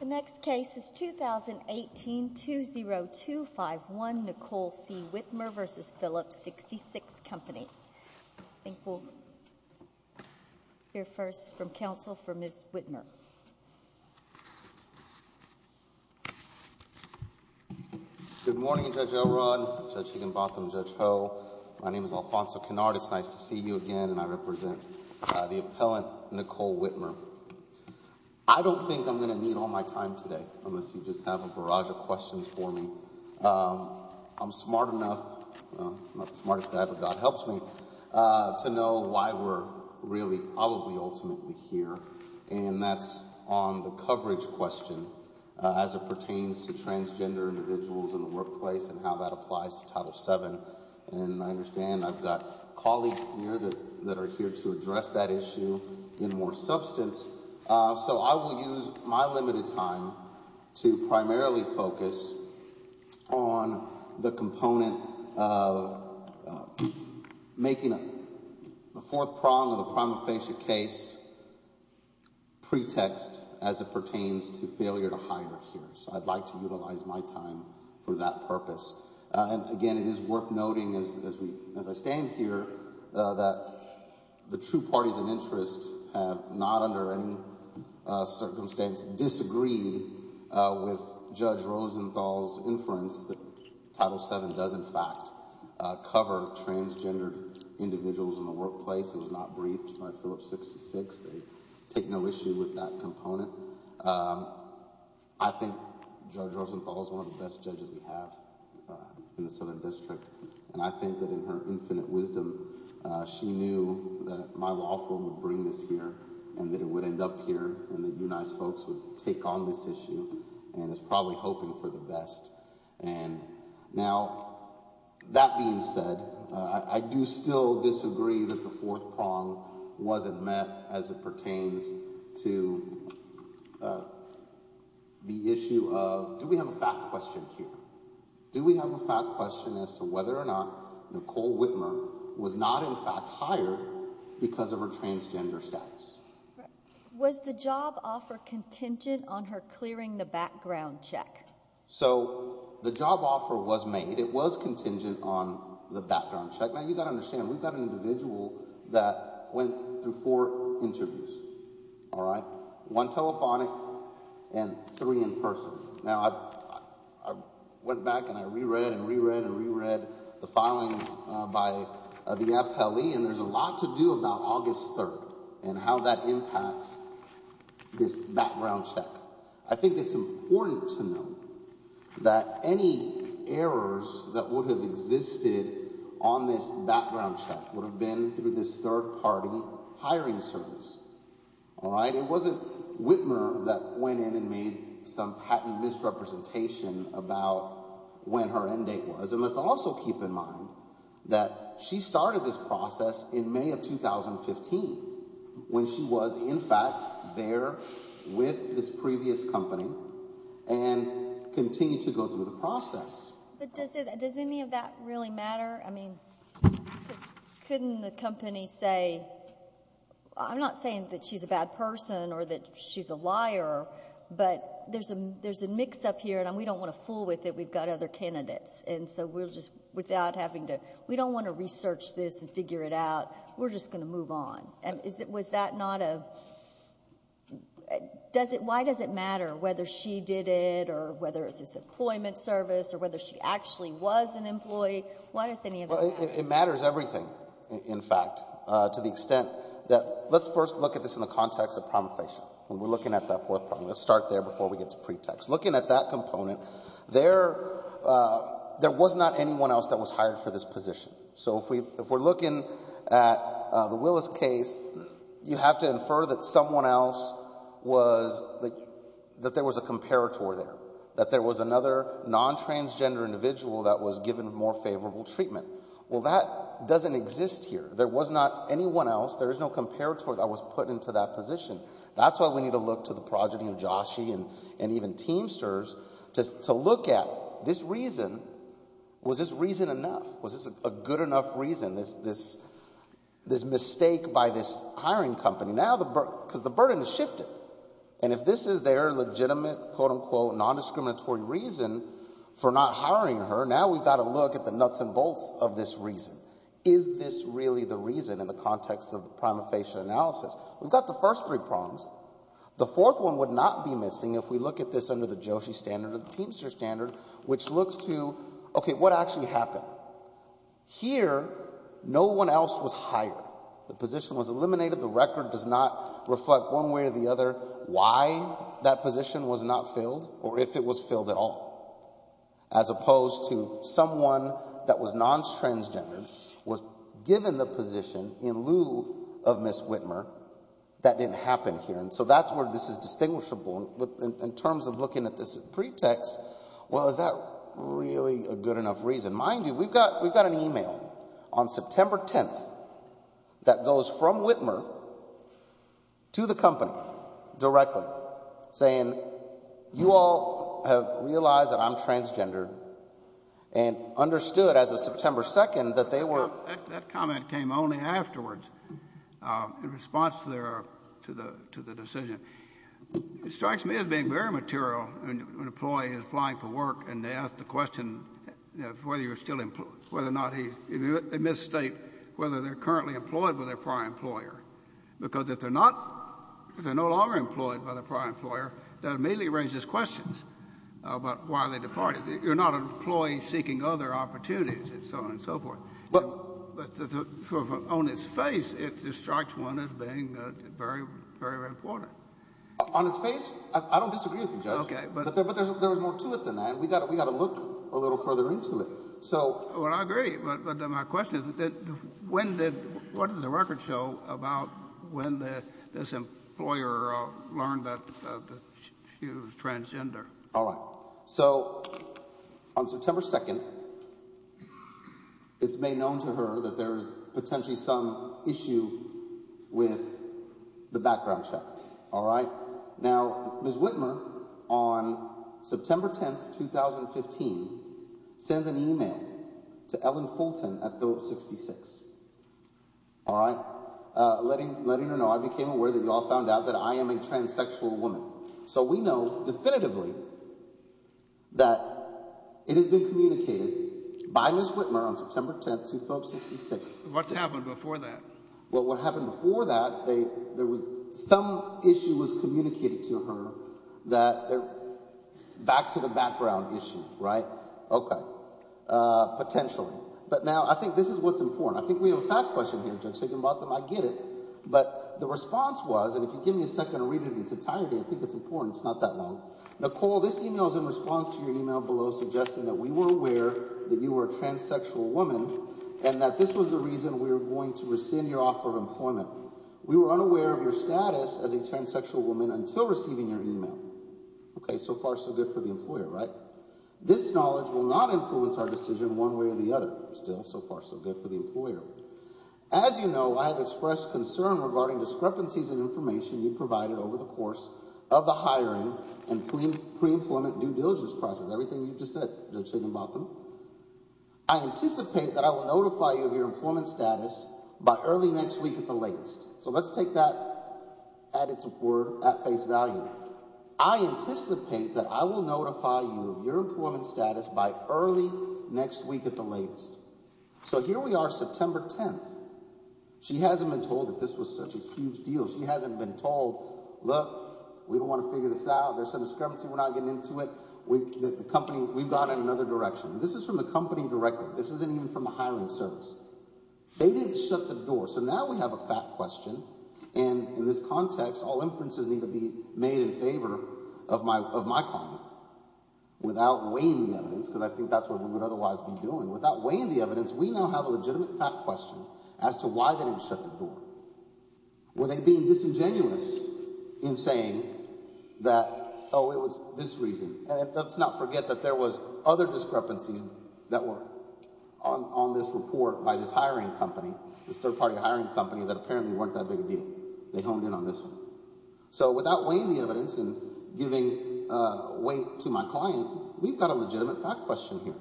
The next case is 2018-20251, Nicole C. Wittmer v. Phillips 66 Company. I think we'll hear first from counsel for Ms. Wittmer. Good morning, Judge O'Rourke, Judge Higginbotham, Judge Ho. My name is Alfonso Conard, it's nice to see you again, and I represent the excellent Nicole Wittmer. I don't think I'm going to need all my time today unless you just have a barrage of questions for me. I'm smart enough—I'm not the smartest guy, but God helps me—to know why we're really ultimately here, and that's on the coverage question as it pertains to transgender individuals in the workplace and how that applies to Title VII. And I understand I've got colleagues here that are here to address that issue in more substance, so I will use my limited time to primarily focus on the component of making a fourth prong of a primary case pretext as it pertains to failure to hire. I'd like to utilize my time for that purpose. Again, it is worth noting, as I stand here, that the two parties of interest have not under any circumstance disagreed with Judge Rosenthal's inference that Title VII does in fact cover transgender individuals in the workplace. It was not briefed by Phillips 66. They've taken no issue with that component. I think Judge Rosenthal is one of the best judges we have in the Southern District, and I think that in her infinite wisdom, she knew that my law firm would bring this here, and that it would end up here, and the United States would take on this issue, and is probably hoping for the best. Now, that being said, I do still disagree that the fourth prong wasn't met as it pertains to the issue of... Do we have a fact question here? Do we have a fact question as to whether or not Nicole Whitmer was not in fact hired because of her transgender status? Was the job offer contingent on her clearing the background check? So, the job offer was made. It was contingent on the background check. Now, you've got to understand, we've got an individual that went through four interviews. All right? One telephonic and three in person. Now, I went back and I reread and reread and reread the filing by the FLE, and there's a lot to do about August 3rd and how that impacts this background check. I think it's important to note that any errors that would have existed on this background check would have been through this third party hiring service. All right? It wasn't Whitmer that went in and made some patent misrepresentation about when her end date was. And let's also keep in mind that she started this process in May of 2015 when she was in fact there with this previous company and continued to go through the process. But does any of that really matter? I mean, couldn't the company say, I'm not saying that she's a bad person or that she's a liar, but there's a mix-up here and we don't want to fool with it. We don't want to research this and figure it out. We're just going to move on. Why does it matter whether she did it or whether it's an employment service or whether she actually was an employee? Why does any of that matter? It matters everything, in fact, to the extent that let's first look at this in the context of problem facing. We're looking at that fourth party. Let's start there before we get to pretext. Looking at that component, there was not anyone else that was hired for this position. So if we're looking at the Willis case, you have to infer that someone else was, that there was a comparator there, that there was another non-transgender individual that was given more favorable treatment. Well, that doesn't exist here. There was not anyone else. There is no comparator that was put into that position. That's why we need to look to the progeny of Joshie and even Teamsters to look at this reason. Was this reason enough? Was this a good enough reason, this mistake by this hiring company? Now the burden has shifted. And if this is their legitimate, quote, unquote, non-discriminatory reason for not hiring her, now we've got to look at the nuts and bolts of this reason. Is this really the reason in the context of the problem facing analysis? We've got the first three problems. The fourth one would not be missing if we look at this under the Joshie standard or the Teamster standard, which looks to, OK, what actually happened? Here, no one else was hired. The position was eliminated. The record does not reflect one way or the other why that position was not filled or if it was filled at all. As opposed to someone that was non-transgender was given the position in lieu of Ms. Whitmer. That didn't happen here. And so that's where this is distinguishable in terms of looking at this pretext. Well, is that really a good enough reason? Mind you, we've got an email on September 10th that goes from Whitmer to the company directly saying, you all have realized that I'm transgender and understood as of September 2nd that they were. That comment came only afterwards in response to the decision. It strikes me as being very material when an employee is applying for work and they ask the question of whether you're still employed, whether or not he's in this state, whether they're currently employed with a prior employer. Because if they're not, if they're no longer employed by the prior employer, that immediately raises questions about why they departed. You're not an employee seeking other opportunities and so on and so forth. On its face, it strikes one as being very, very important. On its face? I don't disagree with you, Judge. But there's more to it than that. We've got to look a little further into it. Well, I agree. But my question is, what does the record show about when this employer learned that he was transgender? All right. So, on September 2nd, it's made known to her that there's potentially some issue with the background check. All right. Now, Ms. Whitmer, on September 10th, 2015, sent an email to Ellen Fulton at Billet 66. All right. Letting her know, I became aware that you all found out that I am a transsexual woman. So, we know definitively that it has been communicated by Ms. Whitmer on September 10th, 2016. What happened before that? Well, what happened before that, there was, some issue was communicated to her that, back to the background issue, right? Okay. Potentially. But now, I think this is what's important. I think we have a fast question here, Judge Higginbotham. I get it. But, the response was, and if you give me a second to read this entirely, I think it's important. It's not that long. Nicole, this email is in response to your email below, suggesting that we were aware that you were a transsexual woman, and that this was the reason we were going to rescind your offer of employment. We were unaware of your status as a transsexual woman until receiving your email. Okay. So far, so good for the employer, right? This knowledge will not influence our decision one way or the other, still. So far, so good for the employer. As you know, I have expressed concern regarding discrepancies in information you provided over the course of the hiring and pre-employment due diligence process. Everything you just said, Judge Higginbotham. I anticipate that I will notify you of your employment status by early next week at the latest. So, let's take that additive word, at face value. I anticipate that I will notify you of your employment status by early next week at the latest. So, here we are, September 10th. She hasn't been told that this was such a huge deal. She hasn't been told, look, we don't want to figure this out. There's some discrepancy. We're not getting into it. The company, we've gone in another direction. This is from the company director. This isn't even from the hiring service. They didn't shut the door. So, now we have a fat question, and in this context, all inferences need to be made in favor of my comment. Without weighing the evidence, because I think that's what we would otherwise be doing, without weighing the evidence, we now have a legitimate fat question as to why they didn't shut the door. Were they being disingenuous in saying that, oh, it was this reason? And let's not forget that there was other discrepancies that were on this report by this hiring company, this third-party hiring company, that apparently weren't that big a deal. They honed in on this one. So, without weighing the evidence and giving weight to my client, we've got a legitimate fat question here.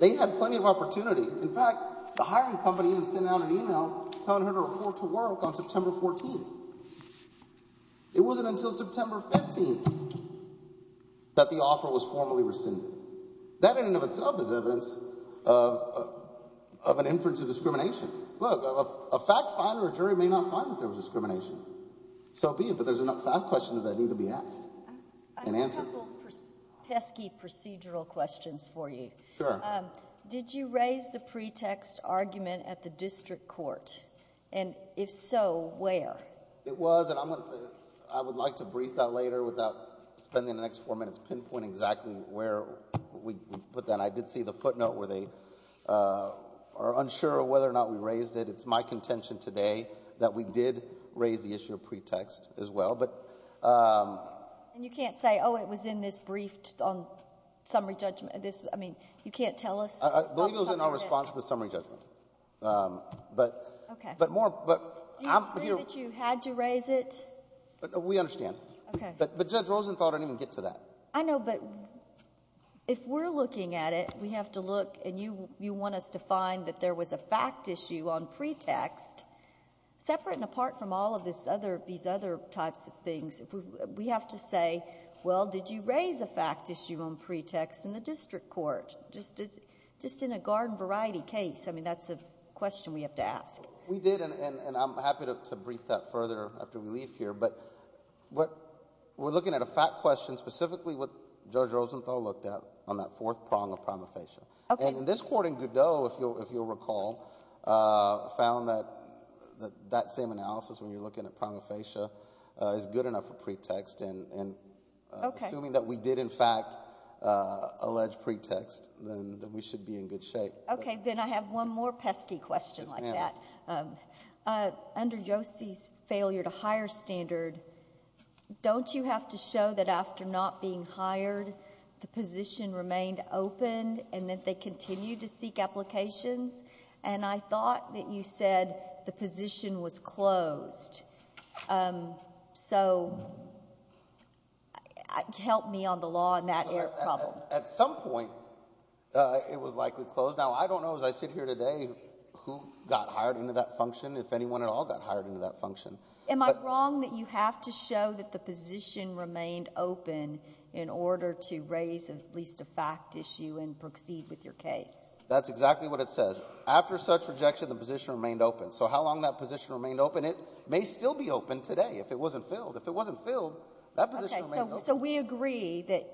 They had plenty of opportunity. In fact, the hiring company was sending out an email telling her to report to work on September 14th. It wasn't until September 15th that the offer was formally rescinded. That in and of itself is evidence of an inference of discrimination. Look, a fat client or jury may not find that there was discrimination. So be it, but there's enough fat questions I think to be asked and answered. I have a couple of pesky procedural questions for you. Sure. Did you raise the pretext argument at the district court? And if so, where? It was, and I would like to brief that later without spending the next four minutes pinpointing exactly where we put that. And I did see the footnote where they are unsure whether or not we raised it. It's my contention today that we did raise the issue of pretext as well. And you can't say, oh, it was in this brief on summary judgment. I mean, you can't tell us? I believe it was in our response to the summary judgment. Okay. But more, but I'm here. Are you saying that you had to raise it? We understand. Okay. But Judge Rosenthal didn't even get to that. I know, but if we're looking at it, we have to look, and you want us to find that there was a fact issue on pretext. Separate and apart from all of these other types of things, we have to say, well, did you raise a fact issue on pretext in the district court? Just in a garden variety case, I mean, that's a question we have to ask. We did, and I'm happy to brief that further after we leave here. But we're looking at a fact question, specifically what Judge Rosenthal looked at on that fourth prong of promofacia. Okay. And this court in Godot, if you'll recall, found that that same analysis when you're looking at promofacia is good enough for pretext. Okay. And assuming that we did, in fact, allege pretext, then we should be in good shape. Okay. Then I have one more pesky question like that. Under Yosti's failure to hire standard, don't you have to show that after not being hired, the position remained open and that they continue to seek applications? And I thought that you said the position was closed. So help me on the law on that error problem. At some point, it was likely closed. Now, I don't know as I sit here today who got hired into that function, if anyone at all got hired into that function. Am I wrong that you have to show that the position remained open in order to raise at least a fact issue and proceed with your case? That's exactly what it says. After such rejection, the position remained open. So how long that position remained open? It may still be open today if it wasn't filled. If it wasn't filled, that position remained open. So we agree that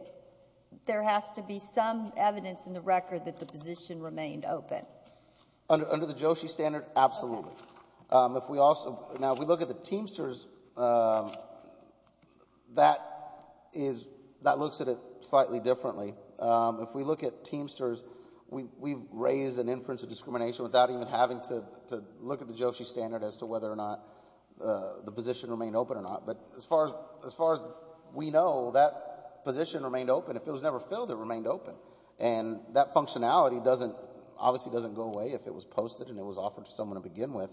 there has to be some evidence in the record that the position remained open? Under the Yosti standard, absolutely. Now, if we look at the Teamsters, that looks at it slightly differently. If we look at Teamsters, we raise an inference of discrimination without even having to look at the Yosti standard as to whether or not the position remained open or not. But as far as we know, that position remained open. If it was never filled, it remained open. And that functionality obviously doesn't go away if it was posted and it was offered to someone to begin with.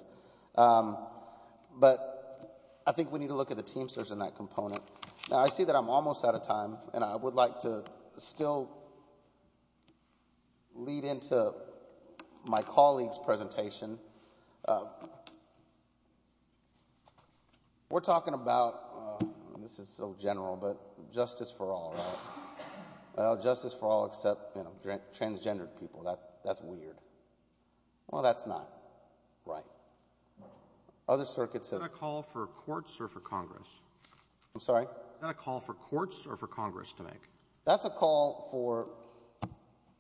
But I think we need to look at the Teamsters in that component. Now, I see that I'm almost out of time, and I would like to still lead into my colleague's presentation. We're talking about—this is so general, but justice for all, right? Justice for all except transgendered people. That's weird. Well, that's not right. Other circuits have— Is that a call for courts or for Congress? I'm sorry? Is that a call for courts or for Congress to make? That's a call for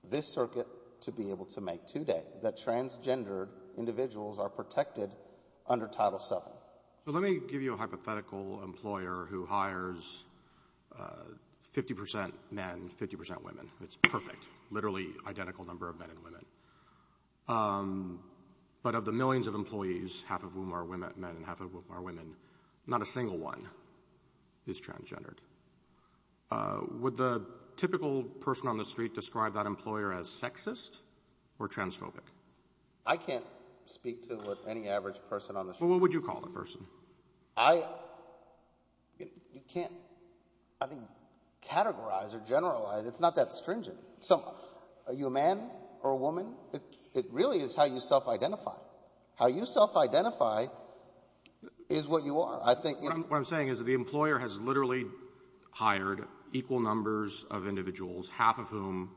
this circuit to be able to make today, that transgendered individuals are protected under Title VII. Let me give you a hypothetical employer who hires 50 percent men, 50 percent women. It's perfect. Literally identical number of men and women. But of the millions of employees, half of whom are men and half of whom are women, not a single one is transgendered. Would the typical person on the street describe that employer as sexist or transphobic? I can't speak to any average person on the street. Well, what would you call the person? I can't categorize or generalize. It's not that stringent. Are you a man or a woman? It really is how you self-identify. How you self-identify is what you are. What I'm saying is that the employer has literally hired equal numbers of individuals, half of whom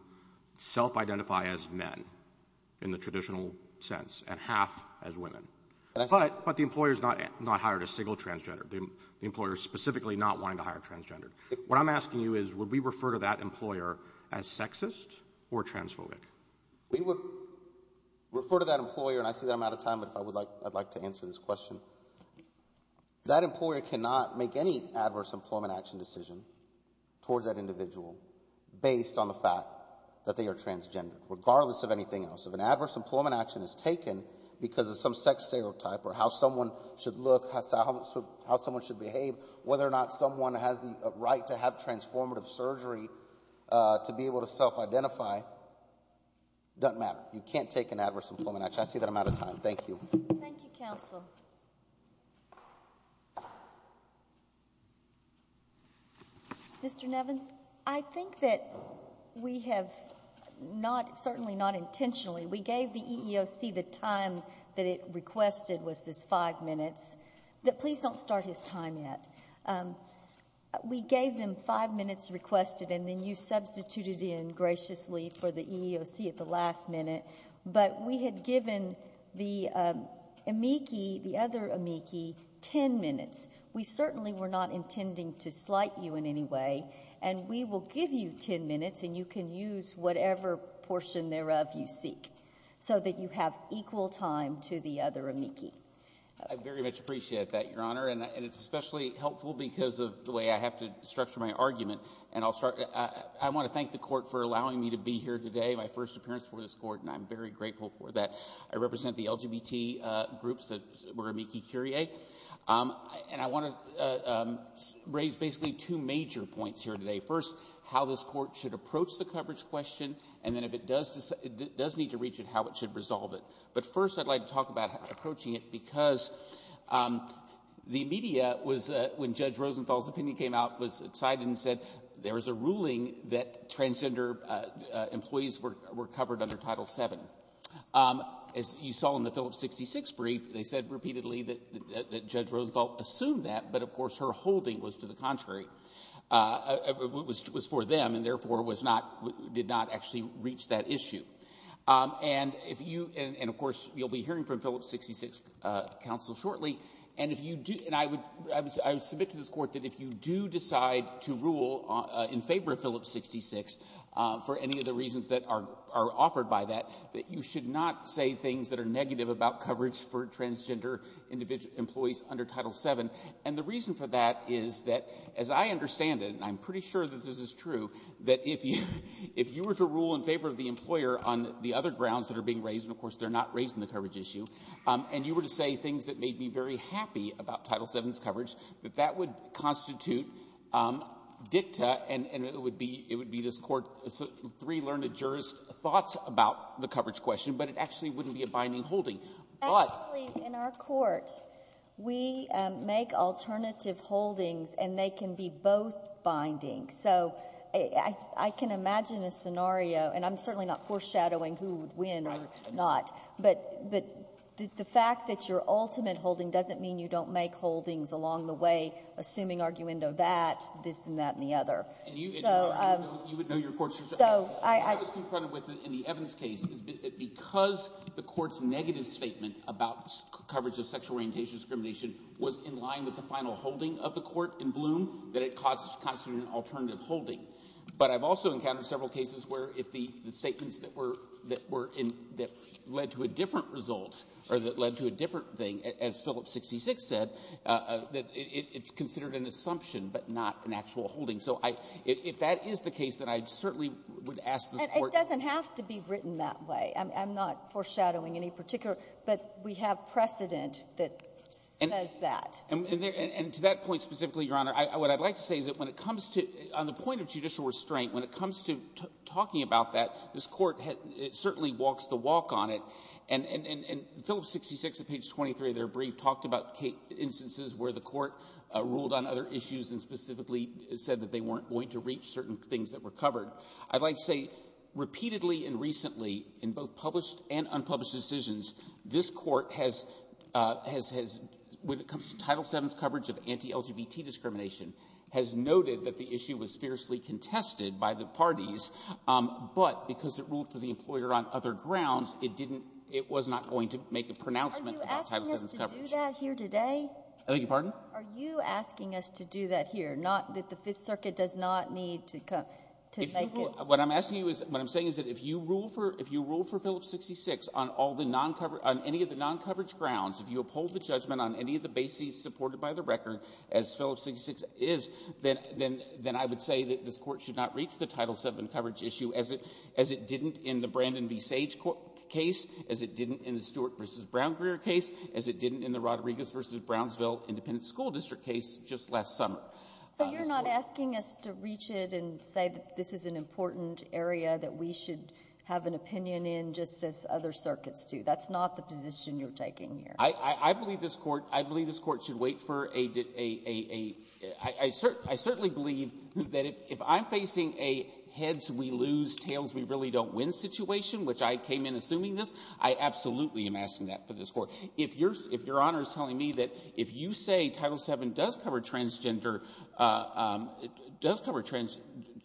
self-identify as men in the traditional sense and half as women. But the employer has not hired a single transgender. The employer is specifically not wanting to hire a transgender. What I'm asking you is, would we refer to that employer as sexist or transphobic? We would refer to that employer, and I see that I'm out of time, but I'd like to answer this question. That employer cannot make any adverse employment action decision towards that individual based on the fact that they are transgendered, regardless of anything else. If an adverse employment action is taken because of some sex stereotype or how someone should look, how someone should behave, whether or not someone has a right to have transformative surgery to be able to self-identify, it doesn't matter. You can't take an adverse employment action. I see that I'm out of time. Thank you. Thank you, counsel. Mr. Nevins, I think that we have not, certainly not intentionally, we gave the EEOC the time that it requested was just five minutes. Please don't start his time yet. We gave them five minutes requested, and then you substituted in graciously for the EEOC at the last minute. But we had given the amici, the other amici, ten minutes. We certainly were not intending to slight you in any way, and we will give you ten minutes, and you can use whatever portion thereof you seek so that you have equal time to the other amici. I very much appreciate that, Your Honor, and it's especially helpful because of the way I have to structure my argument. I want to thank the court for allowing me to be here today, my first appearance before this court, and I'm very grateful for that. I represent the LGBT groups that were amici curiae, and I want to raise basically two major points here today. First, how this court should approach the coverage question, and then if it does need to reach it, how it should resolve it. But first I'd like to talk about approaching it because the media, when Judge Rosenthal's opinion came out, was excited and said there was a ruling that transgender employees were covered under Title VII. As you saw in the Phillips 66 brief, they said repeatedly that Judge Rosenthal assumed that, but of course her holding was to the contrary. It was for them, and therefore did not actually reach that issue. And of course you'll be hearing from Phillips 66 counsel shortly, and I submit to this court that if you do decide to rule in favor of Phillips 66, for any of the reasons that are offered by that, that you should not say things that are negative about coverage for transgender employees under Title VII. And the reason for that is that, as I understand it, and I'm pretty sure that this is true, that if you were to rule in favor of the employer on the other grounds that are being raised, and of course they're not raised in the coverage issue, and you were to say things that made me very happy about Title VII's coverage, that that would constitute dicta, and it would be this court's three learned jurors' thoughts about the coverage question, but it actually wouldn't be a binding holding. Actually, in our courts, we make alternative holdings, and they can be both binding. So I can imagine a scenario, and I'm certainly not foreshadowing who would win or not, but the fact that you're ultimate holding doesn't mean you don't make holdings along the way, assuming arguendo that, this and that and the other. And you would know your courts. I was confronted with this in the Evans case, because the court's negative statement about coverage of sexual orientation discrimination was in line with the final holding of the court in Bloom, that it constitutes an alternative holding. But I've also encountered several cases where the statements that led to a different result, or that led to a different thing, as Phillips 66 said, that it's considered an assumption but not an actual holding. So if that is the case, then I certainly would ask the court to… It doesn't have to be written that way. I'm not foreshadowing any particular, but we have precedent that says that. And to that point specifically, Your Honor, what I'd like to say is that when it comes to, on the point of judicial restraint, when it comes to talking about that, this court certainly walks the walk on it. And Phillips 66, on page 23 of their brief, talked about instances where the court ruled on other issues and specifically said that they weren't going to reach certain things that were covered. I'd like to say, repeatedly and recently, in both published and unpublished decisions, this court has, when it comes to Title VII's coverage of anti-LGBT discrimination, has noted that the issue was fiercely contested by the parties, but because it ruled for the employer on other grounds, it was not going to make a pronouncement about Title VII's coverage. Are you asking us to do that here today? I beg your pardon? Are you asking us to do that here, not that the Fifth Circuit does not need to make it? What I'm asking you is, what I'm saying is that if you ruled for Phillips 66 on any of the non-coverage grounds, if you uphold the judgment on any of the bases supported by the record, as Phillips 66 is, then I would say that this court should not reach the Title VII coverage issue as it didn't in the Brandon v. Sage case, as it didn't in the Stewart v. Brownsville case, as it didn't in the Rodriguez v. Brownsville Independent School District case just last summer. So you're not asking us to reach it and say that this is an important area that we should have an opinion in, just as other circuits do? That's not the position you're taking here. I believe this court should wait for a – I certainly believe that if I'm facing a heads-we-lose, tails-we-really-don't-win situation, which I came in assuming this, I absolutely am asking that for this court. If Your Honor is telling me that if you say Title VII does cover transgender – does cover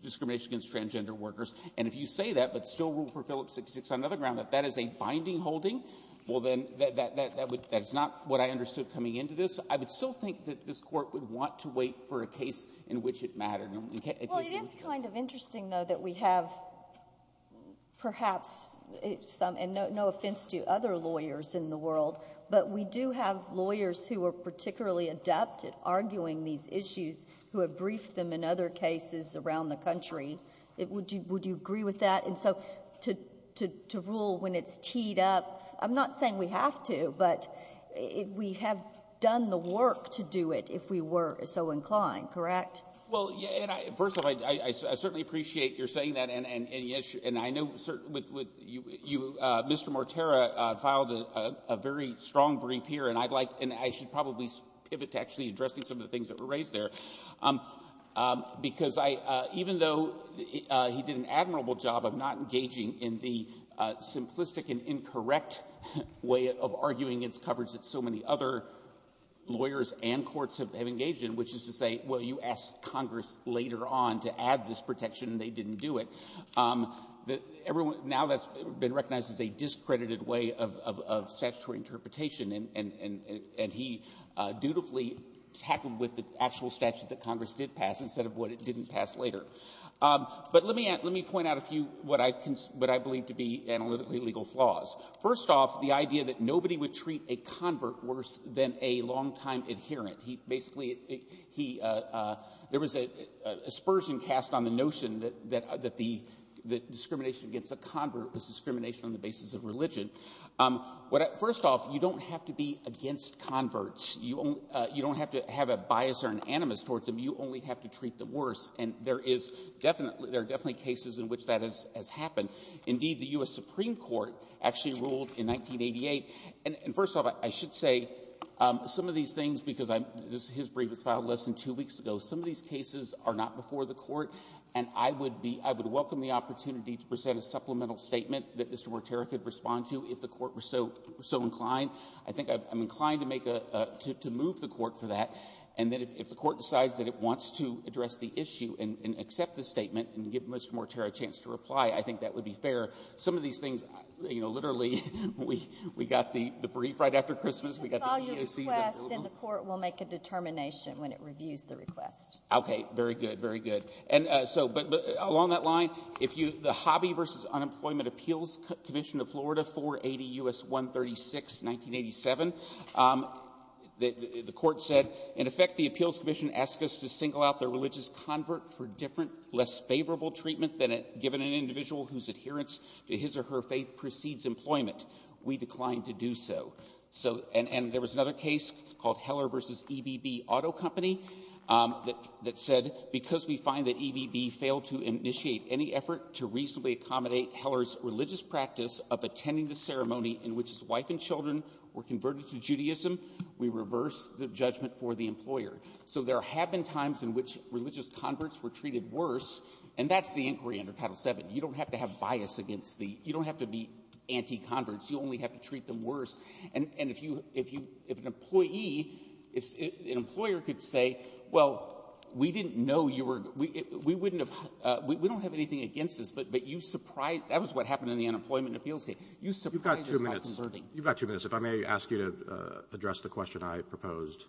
discrimination against transgender workers, and if you say that but still ruled for Phillips 66 on another ground, that that is a binding holding, well then that's not what I understood coming into this. I would still think that this court would want to wait for a case in which it mattered. Well, it is kind of interesting, though, that we have perhaps – and no offense to other lawyers in the world, but we do have lawyers who are particularly adept at arguing these issues who have briefed them in other cases around the country. Would you agree with that? And so to rule when it's keyed up – I'm not saying we have to, but we have done the work to do it if we were so inclined. Correct? Well, first of all, I certainly appreciate your saying that. And I know Mr. Mortera filed a very strong brief here, and I'd like – and I should probably pivot to actually addressing some of the things that were raised there. Because even though he did an admirable job of not engaging in the simplistic and incorrect way of arguing its coverage that so many other lawyers and courts have engaged in, which is to say, well, you asked Congress later on to add this protection and they didn't do it. Now that's been recognized as a discredited way of statutory interpretation, and he dutifully tackled with the actual statute that Congress did pass instead of what it didn't pass later. But let me point out a few what I believe to be analytically legal flaws. First off, the idea that nobody would treat a convert worse than a longtime adherent. He basically – there was a dispersion cast on the notion that the discrimination against a convert was discrimination on the basis of religion. First off, you don't have to be against converts. You don't have to have a bias or an animus towards them. You only have to treat them worse. And there is definitely – there are definitely cases in which that has happened. Indeed, the U.S. Supreme Court actually ruled in 1988. And first off, I should say some of these things, because I'm – this is his brief that filed less than two weeks ago. Some of these cases are not before the court, and I would be – I would welcome the opportunity to present a supplemental statement that Mr. Mortera could respond to. If the court were so inclined, I think I'm inclined to make a – to move the court for that. And then if the court decides that it wants to address the issue and accept the statement and give Mr. Mortera a chance to reply, I think that would be fair. Some of these things, you know, literally, we got the brief right after Christmas. We got the – I'll call your request, and the court will make a determination when it reviews the request. Okay, very good, very good. And so – but along that line, if you – the Hobby v. Unemployment Appeals Commission of Florida, 480 U.S. 136, 1987. The court said, in effect, the appeals commission asked us to single out the religious convert for different, less favorable treatment than given an individual whose adherence to his or her faith precedes employment. We declined to do so. So – and there was another case called Heller v. EBB Auto Company that said, because we find that EBB failed to initiate any effort to reasonably accommodate Heller's religious practice of attending the ceremony in which his wife and children were converted to Judaism, we reversed the judgment for the employer. So there have been times in which religious converts were treated worse, and that's the inquiry under Title VII. You don't have to have bias against the – you don't have to be anti-converts. You only have to treat them worse. And if you – if an employee – if an employer could say, well, we didn't know you were – we wouldn't have – we don't have anything against this, but you surprised – that was what happened in the unemployment appeals case. You surprised us. You've got two minutes. You've got two minutes. If I may ask you to address the question I proposed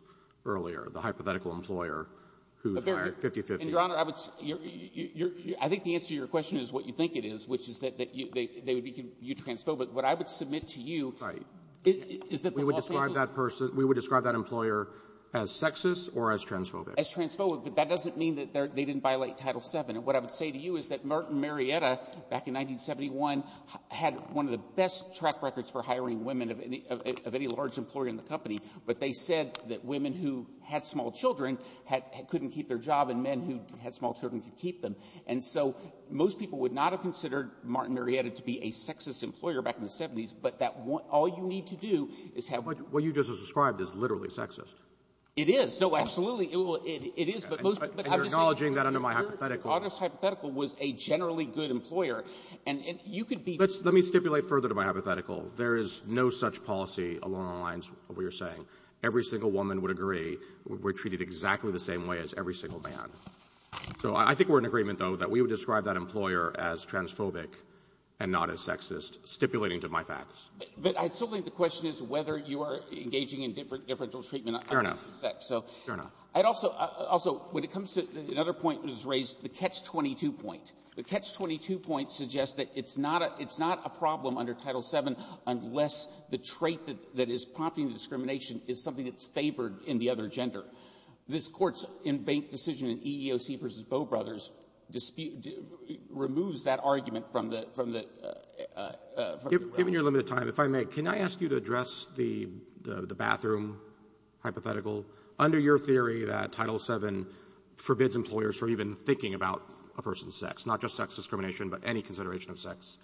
earlier, the hypothetical employer who hired 50-50. Your Honor, I would – I think the answer to your question is what you think it is, which is that they would be transphobic. But what I would submit to you is that they also – We would describe that person – we would describe that employer as sexist or as transphobic. As transphobic, but that doesn't mean that they didn't violate Title VII. And what I would say to you is that Martin Marietta, back in 1971, had one of the best track records for hiring women of any large employer in the company, but they said that women who had small children couldn't keep their job and men who had small children could keep them. And so most people would not have considered Martin Marietta to be a sexist employer back in the 70s, but that all you need to do is have – What you just described is literally sexist. It is. So absolutely, it is, but most – And you're acknowledging that under my hypothetical. August's hypothetical was a generally good employer, and you could be – Let me stipulate further to my hypothetical. There is no such policy along the lines of what you're saying. Every single woman would agree we're treated exactly the same way as every single man. So I think we're in agreement, though, that we would describe that employer as transphobic and not as sexist, stipulating to my facts. But I still think the question is whether you are engaging in differential treatment. Fair enough. Also, when it comes to another point that was raised, the Catch-22 point. The Catch-22 point suggests that it's not a problem under Title VII unless the trait that is prompting discrimination is something that's favored in the other gender. This Court's in-bank decision in EEOC v. Bow Brothers removes that argument from the – Given your limited time, if I may, can I ask you to address the bathroom hypothetical? Under your theory, Title VII forbids employers from even thinking about a person's sex, not just sex discrimination but any consideration of sex.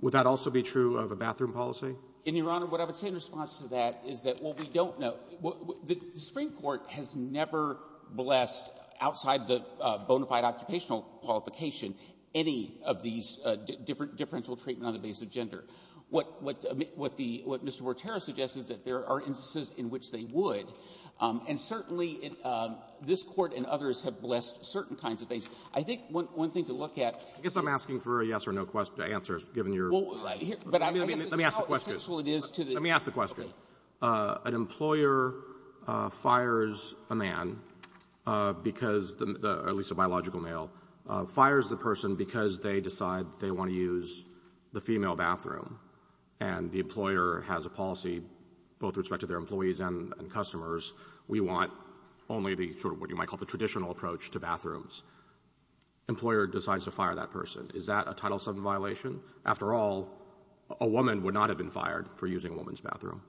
Would that also be true of a bathroom policy? And, Your Honor, what I would say in response to that is that what we don't know – the Supreme Court has never blessed, outside the bona fide occupational qualification, any of these differential treatment on the basis of gender. What Mr. Wortero suggested is that there are instances in which they would, and certainly this Court and others have blessed certain kinds of things. I think one thing to look at – I guess I'm asking for a yes or no answer, given your – Let me ask the question. Let me ask the question. An employer fires a man because – at least a biological male – fires the person because they decide they want to use the female bathroom and the employer has a policy, both with respect to their employees and customers, we want only the – what you might call the traditional approach to bathrooms. Employer decides to fire that person. Is that a Title VII violation? After all, a woman would not have been fired for using a woman's bathroom.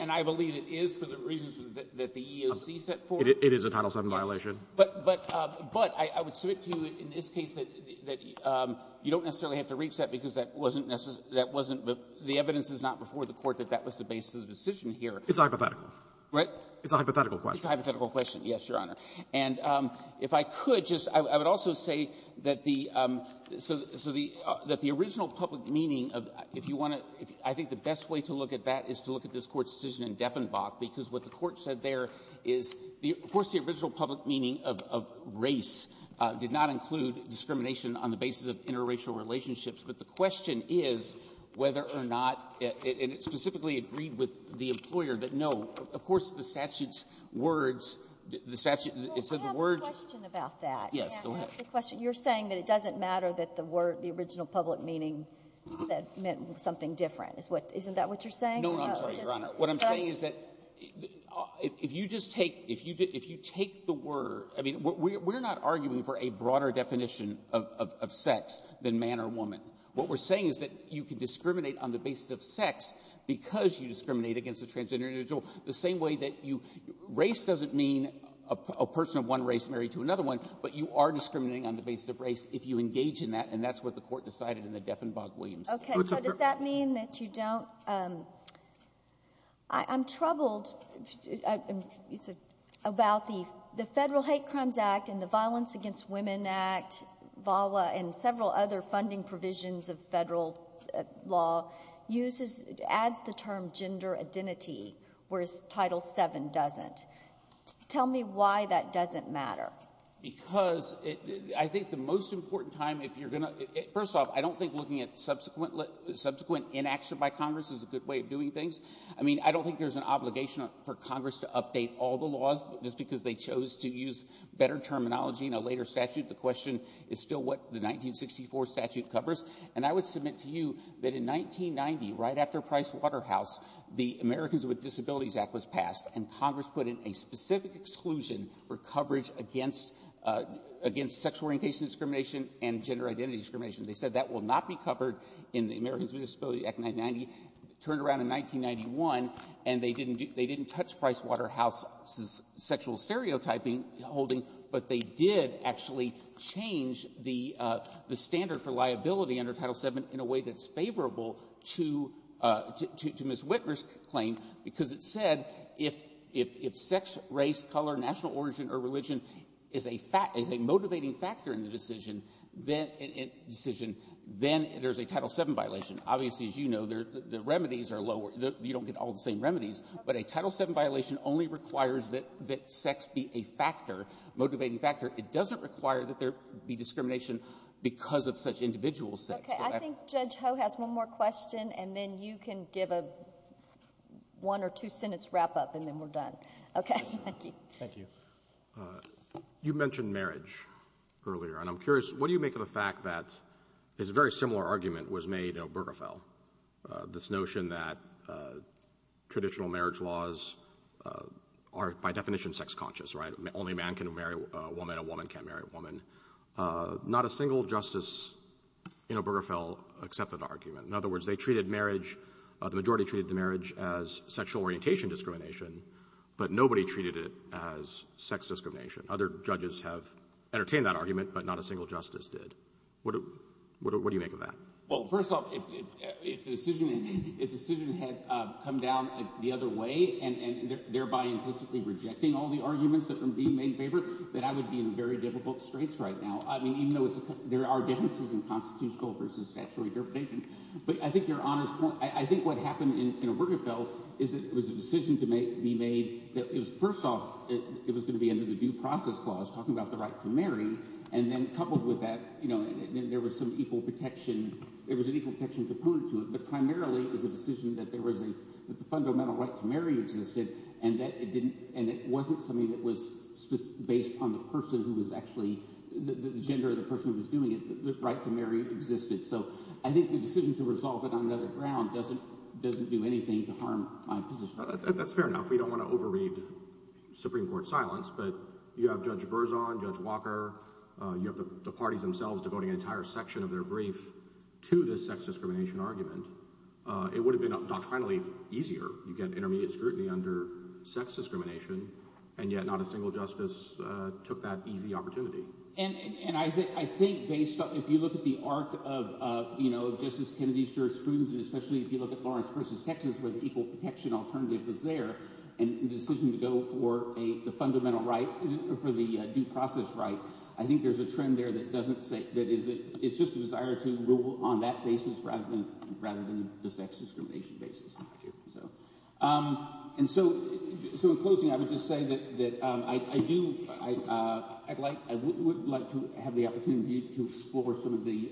And I believe it is for the reasons that the EEOC set forth. It is a Title VII violation. But I would submit to you in this case that you don't necessarily have to reach that because that wasn't necessarily – the evidence is not before the Court that that was the basis of the decision here. It's a hypothetical. Right? It's a hypothetical question. It's a hypothetical question, yes, Your Honor. And if I could, I would also say that the original public meaning of – if you want to – I think the best way to look at that is to look at this Court's decision in Deffenbach because what the Court said there is, of course, the original public meaning of race did not include discrimination on the basis of interracial relationships, but the question is whether or not – and it specifically agreed with the employer that no, of course, the statute's words – the statute – it says the word – Well, we have a question about that. Yes, go ahead. You're saying that it doesn't matter that the word – the original public meaning meant something different. Isn't that what you're saying? No, I'm sorry, Your Honor. What I'm saying is that if you just take – if you take the word – I mean, we're not arguing for a broader definition of sex than man or woman. What we're saying is that you can discriminate on the basis of sex because you discriminate against a transgender individual the same way that you – race doesn't mean a person of one race married to another one, but you are discriminating on the basis of race if you engage in that, and that's what the Court decided in the Deffenbach Williams. Okay, so does that mean that you don't – I'm troubled about the Federal Hate Crimes Act and the Violence Against Women Act, VAWA, and several other funding provisions of federal law uses – adds the term gender identity, whereas Title VII doesn't. Tell me why that doesn't matter. Because I think the most important time if you're going to – first off, I don't think looking at subsequent inaction by Congress is a good way of doing things. I mean, I don't think there's an obligation for Congress to update all the laws just because they chose to use better terminology in a later statute. The question is still what the 1964 statute covers. And I would submit to you that in 1990, right after Pricewaterhouse, the Americans with Disabilities Act was passed, and Congress put in a specific exclusion for coverage against sexual orientation discrimination and gender identity discrimination. They said that will not be covered in the Americans with Disabilities Act of 1990. Turned around in 1991, and they didn't touch Pricewaterhouse's sexual stereotyping holding, but they did actually change the standard for liability under Title VII in a way that's favorable to miswitness claims, because it said if sex, race, color, national origin, or religion is a motivating factor in the decision, then there's a Title VII violation. Obviously, as you know, the remedies are lower. You don't get all the same remedies. But a Title VII violation only requires that sex be a factor, a motivating factor. It doesn't require that there be discrimination because of such individual sex. Okay. I think Judge Ho has one more question, and then you can give a one or two-sentence wrap-up, and then we're done. Okay. Thank you. Thank you. You mentioned marriage earlier, and I'm curious, what do you make of the fact that a very similar argument was made in Obergefell, this notion that traditional marriage laws are, by definition, sex conscious, right? Only a man can marry a woman, a woman can't marry a woman. Not a single justice in Obergefell accepted the argument. In other words, they treated marriage, the majority treated marriage as sexual orientation discrimination, but nobody treated it as sex discrimination. Other judges have entertained that argument, but not a single justice did. What do you make of that? Well, first off, if the decision had come down the other way and thereby implicitly rejecting all the arguments that were being made in favor, then I would be in very difficult straits right now. I mean, even though there are differences in constitutional versus sexual orientation. But I think your Honor's point, I think what happened in Obergefell is it was a decision to be made that was, first off, it was going to be under the Due Process Clause talking about the right to marry, and then coupled with that, you know, there was some equal protection. There was an equal protection to prudence, but primarily it was a decision that there was a fundamental right to marry existed, and it wasn't something that was based on the person who was actually, the gender of the person who was doing it, that this right to marry existed. So I think the decision to resolve it on another ground doesn't do anything to harm my position. That's fair enough. We don't want to overreach Supreme Court silence, but you have Judge Berzon, Judge Walker, you have the parties themselves devoting an entire section of their brief to this sex discrimination argument. It would have been, finally, easier. You get intermediate scrutiny under sex discrimination, and yet not a single justice took that easy opportunity. And I think based on, if you look at the arc of, you know, Justice Kennedy's jurisprudence, especially if you look at Lawrence v. Texas where the equal protection alternative is there, and the decision to go for the fundamental right, for the due process right, I think there's a trend there that it's just a desire to rule on that basis rather than the sex discrimination basis. And so, in closing, I would just say that I do, I would like to have the opportunity to explore some of the,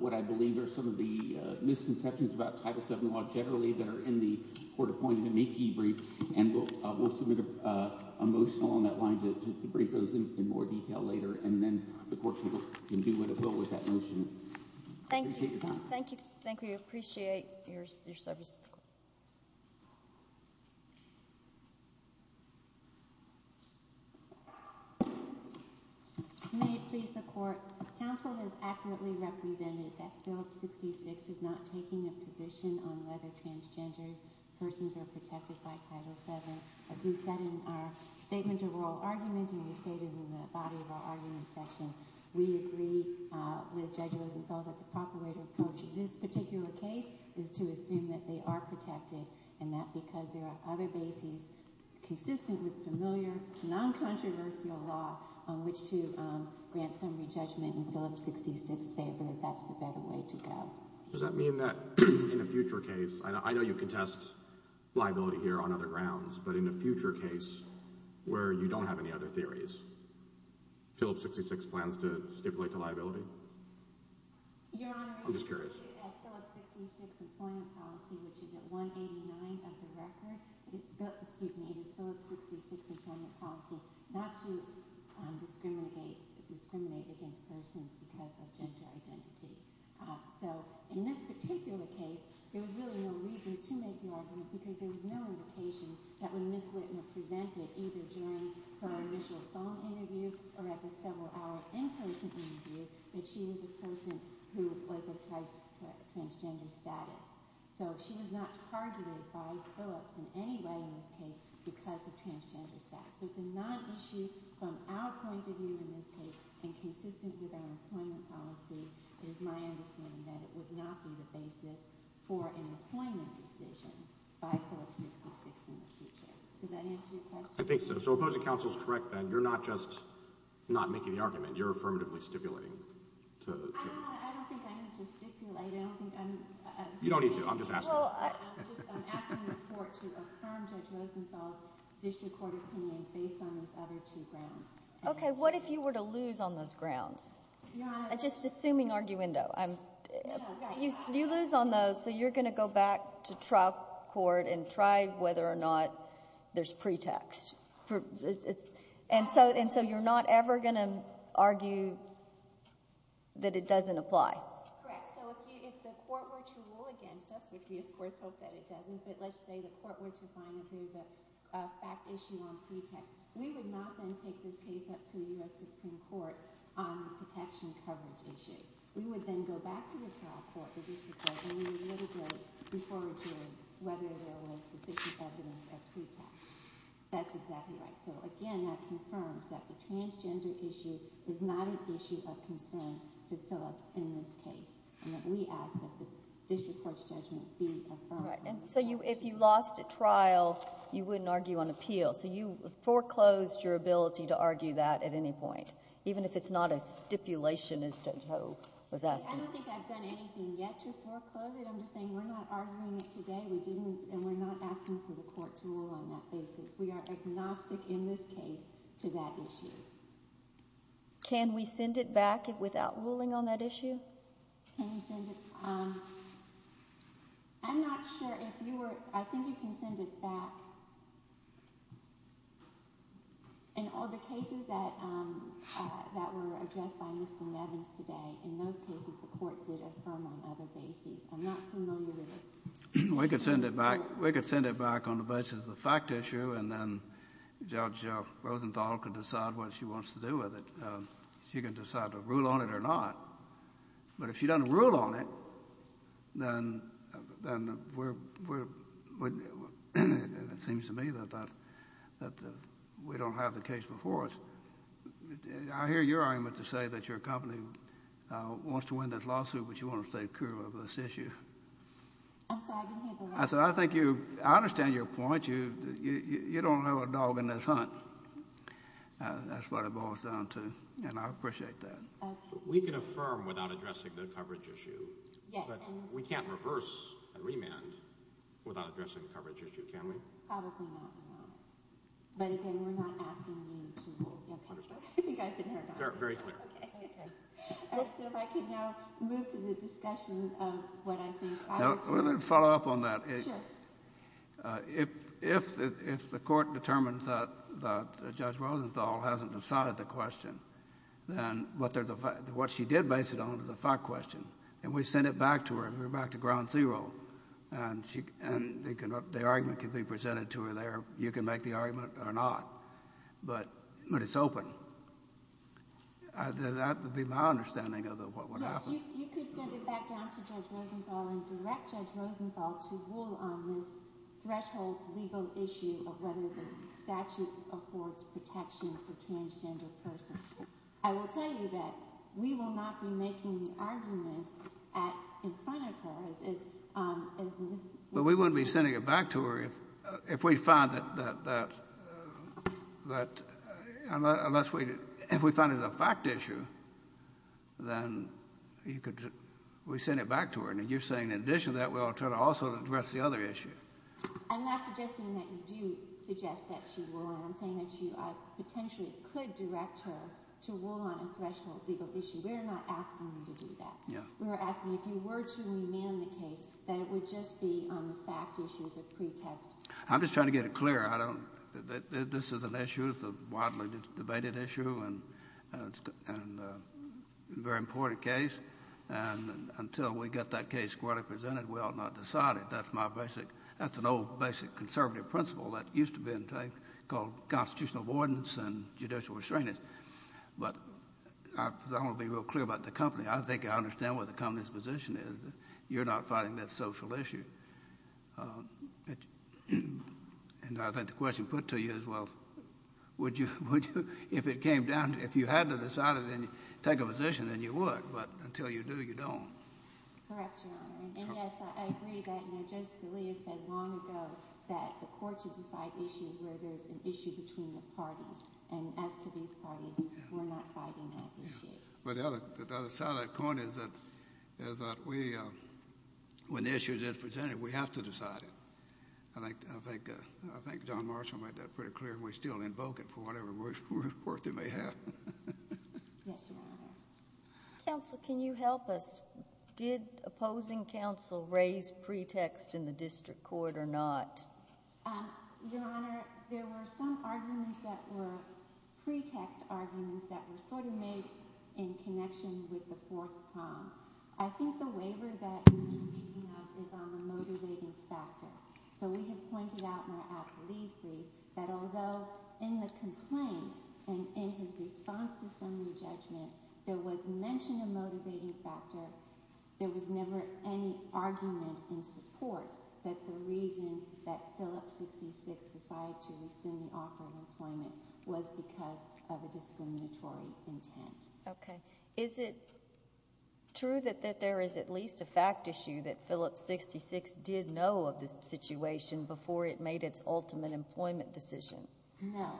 what I believe are some of the misconceptions about Title VII law generally that are in the Court of Appointment AP briefs, and we'll submit a motion along that line to break those in more detail later, and then the Court can deal with the bill with that motion. Thank you. Thank you. Appreciate your service. May it please the Court, counsel has accurately represented that Bill 66 is not taking a position on whether transgender persons are protected by Title VII. As we said in our statement of oral arguments, and we stated in the body of our argument session, we agree with Judge Rosenfeld that the proper way to approach this particular case is to assume that they are protected, and that because there are other bases consistently familiar to non-controversial law on which to grant some re-judgment in Phillips 66 favor, that's the better way to go. Does that mean that in a future case, I know you contest liability here on other grounds, but in a future case where you don't have any other theories, Phillips 66 plans to stipulate the liability? Your Honor, I'm just curious. I saw 66's form of policy, which is at 189 of the record. Excuse me, I saw 66's form of policy not to discriminate against persons who have a transgender identity. So, in this particular case, there was really no reason to make the argument because there was no indication that when Ms. Whitman presented, either during her initial phone interview or after several hours in her interview, that she was a person who was assessed for transgender status. So, she was not charged by Phillips in any way in this case because of transgender status. It's a non-issue from our point of view in this case, and consistent with our employment policy, it is my understanding that it would not be the basis for an employment decision by Phillips 66 in the future. Does that answer your question? I think so. So, if those accounts are correct, then, you're not just not making the argument. You're affirmatively stipulating. I don't think I need to stipulate. You don't need to. I'm just asking. I'm just asking the court to affirm Judge Latham's official court opinion based on those other two grounds. Okay, what if you were to lose on those grounds? Your Honor. I'm just assuming arguendo. You lose on those, so you're going to go back to trial court and try whether or not there's pretext. And so, you're not ever going to argue that it doesn't apply. Correct. So, if the court were to rule against us, which we of course hope that it doesn't, but let's say the court were to find that there was a fact issue on pretext, we would not go and take this case up to the U.S. Supreme Court on a protection of coverage issue. We would then go back to the trial court, the district court, and we would literally refer it to whether there was sufficient evidence of pretext. That's exactly right. So, again, that confirms that the transgender issue is not an issue of concern for Phyllis in this case. We ask that the district court's judgment be affirmed. Right. And so, if you lost at trial, you wouldn't argue on appeal. So, you foreclosed your ability to argue that at any point, even if it's not a stipulation. I don't think I've done anything yet to foreclose it. I'm just saying we're not arguing it today, and we're not asking for the court to rule on that basis. We are agnostic in this case to that issue. Can we send it back without ruling on that issue? Can you send it? I'm not sure if you were – I think you can send it back. In all the cases that were addressed by Mr. Levin today, in those cases, the court did affirm on other basis. We can send it back on the basis of the fact issue, and then Judge Rosenthal can decide what she wants to do with it. She can decide to rule on it or not. But if she doesn't rule on it, then we're – it seems to me that we don't have the case before us. I hear your argument to say that your company wants to win this lawsuit, but you want to stay true to this issue. I said, I think you – I understand your point. You don't know a dog in this hunt. That's what it boils down to, and I appreciate that. We can affirm without addressing the coverage issue, but we can't reverse and remand without addressing the coverage issue, can we? Very clear. If I could now move to the discussion of what I think – We're going to follow up on that. Sure. If the court determines that Judge Rosenthal hasn't decided the question, then what she did base it on was a fact question, and we sent it back to her, and we're back to ground zero, and the argument can be presented to her there. You can make the argument or not. But it's open. That would be my understanding of what would happen. You could send it back down to Judge Rosenthal and direct Judge Rosenthal to rule on the threshold legal issue of whether the statute affords protection for transgender persons. I will tell you that we will not be making the argument in front of her. Well, we wouldn't be sending it back to her if we find that – unless we – if we find it a fact issue, then we send it back to her. And you're saying in addition to that, we ought to try to also address the other issue. I'm not suggesting that you do suggest that she rule on it. I'm saying that you potentially could direct her to rule on a threshold legal issue. We're not asking you to do that. We're asking if you were to rule on the case, that it would just be on the fact issues that you had. I'm just trying to get it clear. I don't – this is an issue. It's a widely debated issue and a very important case. And until we get that case court-represented, we ought not decide it. That's my basic – that's an old, basic conservative principle that used to be in place called constitutional avoidance and judicial restraining. But I don't want to be real clear about the company. I think I understand what the company's position is. You're not fighting that social issue. And I think the question put to you is, well, would you – if it came down to – if you had to decide it and take a position, then you would. But until you do, you don't. Correct, Your Honor. And, yes, I agree about you. Justice Scalia said long ago that the courts would decide issues where there's an issue between the parties. And as to these parties, we're not fighting that issue. But the other side of the coin is that we – when the issue is represented, we have to decide it. I think Don Marshall made that pretty clear, and we still invoke it for whatever work it may have. Yes, Your Honor. Counsel, can you help us? Did opposing counsel raise pretexts in the district court or not? Your Honor, there were some arguments that were – pretext arguments that were sort of made in connection with the fourth time. I think the waiver that you're speaking of is on the motivating factor. So we have pointed out in our application that although in the complaint and in his response to some of the judgment, there was mention of a motivating factor, there was never any argument in support that the reason that Phillips 66 decided to resume offerable employment was because of a discriminatory intent. Okay. Is it true that there is at least a fact issue that Phillips 66 did know of this situation before it made its ultimate employment decision? No.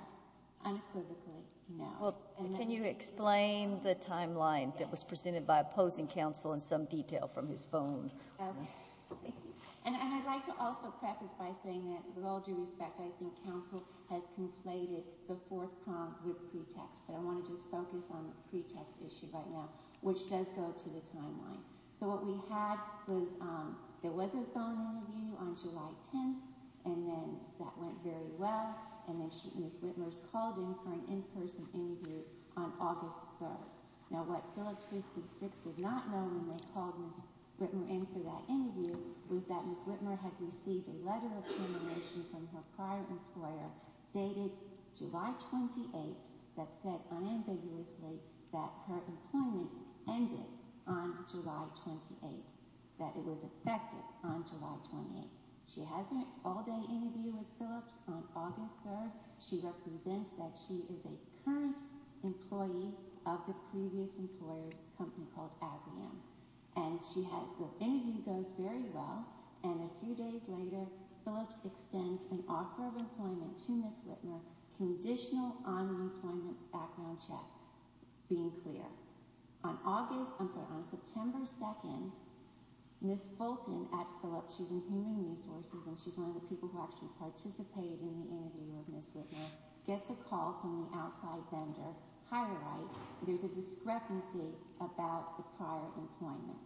Unquivocally, no. Well, can you explain the timeline that was presented by opposing counsel in some detail from his phone? Okay. And I'd like to also preface by saying that with all due respect, I think counsel has conflated the fourth time with pretext. So I want to just focus on the pretext issue right now, which does go to the timeline. So what we had was there was a phone interview on July 10th, and then that went very well, and then Ms. Whitmer called in for an in-person interview on August 1st. Now, what Phillips 66 did not know when they called Ms. Whitmer in for that interview was that Ms. Whitmer had received a letter of confirmation from her prior employer dated July 28th that said unambiguously that her employment ended on July 28th, that it was effective on July 28th. She has an all-day interview with Phillips on August 1st. She represents that she is a current employee of the previous employer's company called AdRam. And her interview goes very well. And a few days later, Phillips extends an offer of employment to Ms. Whitmer, conditional on-employment background check, being clear. On August 1st, on September 2nd, Ms. Fulton at Phillips, she's in human resources, and she's one of the people who actually participated in the interview with Ms. Whitmer, gets a call from the outside vendor, it is a discrepancy about the prior employment.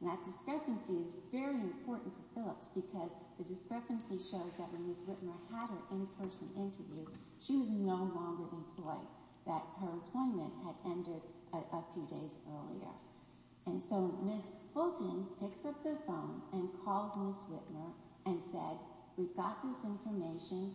And that discrepancy is very important to Phillips because the discrepancy shows that when Ms. Whitmer had her in-person interview, she was no longer employed, that her employment had ended but a few days earlier. And so Ms. Fulton picks up the phone and calls Ms. Whitmer and says, we've got this information,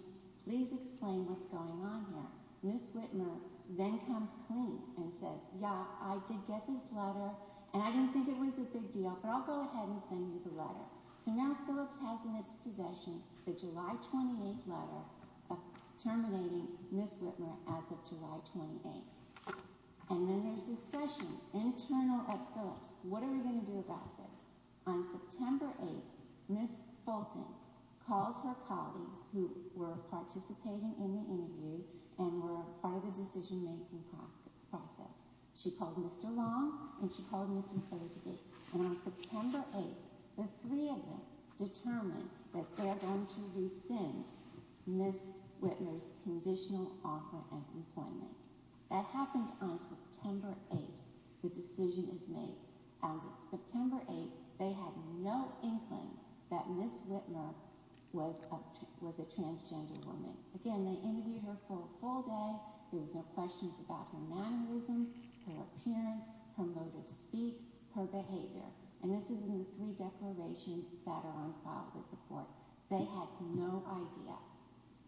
please explain what's going on here. Ms. Whitmer then comes clean and says, yeah, I did get this letter, and I didn't think it was a big deal, but I'll go ahead and send you the letter. And now Phillips has in its possession the July 28th letter terminating Ms. Whitmer as of July 28th. And then there's discussion internal at Phillips. What are we going to do about this? On September 8th, Ms. Fulton called her colleagues who were participating in the interview and were part of the decision-making process. She called Mr. Long and she called Mr. Korsky. And on September 8th, the three of them determined that they are going to rescind Ms. Whitmer's conditional offer of employment. That happened on September 8th, the decision was made. On September 8th, they had no inkling that Ms. Whitmer was a transgender woman. Again, they interviewed her for a full day. There were no questions about her mannerisms, her appearance, her motive to speak, her behavior. And this is in the three declarations that are on file for support. They had no idea.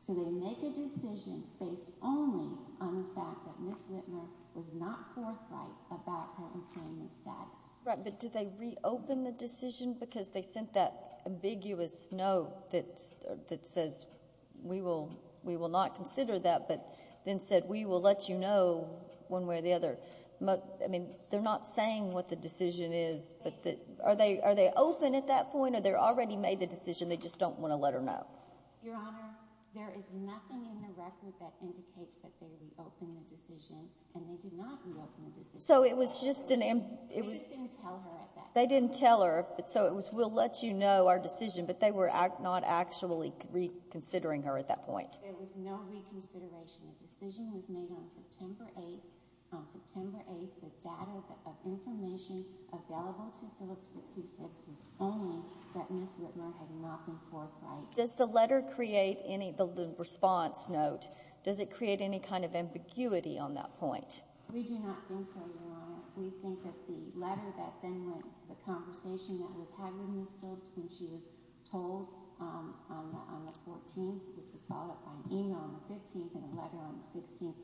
They make a decision based only on the fact that Ms. Whitmer did not foresight about her employment status. Right, but did they reopen the decision? Because they sent that ambiguous note that says, we will not consider that, but then said, we will let you know one way or the other. I mean, they're not saying what the decision is. Are they open at that point or they already made the decision, they just don't want to let her know? Your Honor, there is nothing in the record that indicates that they reopened the decision, and they did not reopen the decision. So it was just an... They just didn't tell her at that point. They didn't tell her, so it was, we'll let you know our decision, but they were not actually reconsidering her at that point. There was no reconsideration. The decision was made on September 8th. On September 8th, there's data, there's information available to those who think that Ms. Whitmer had not been foresight. Does the letter create any, the response note, does it create any kind of ambiguity on that point? We do not think so, Your Honor. We think that the letter that then went to the conversation that was having with her when she was told on the 14th that she qualified in on the 15th, and the letter on the 15th,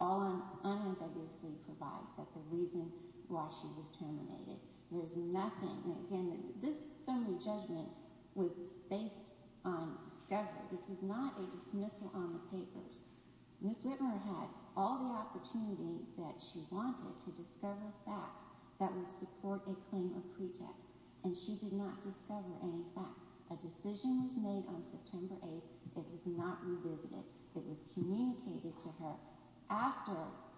all unambiguously provides that the reason why she was terminated. There's nothing, and again, this only judgment was based on evidence. This is not a dismissal on the paper. Ms. Whitmer had all the opportunities that she wanted to discover facts that would support a claim of pretext, and she did not discover any facts. A decision was made on September 8th that was not revisited, that was communicated to her after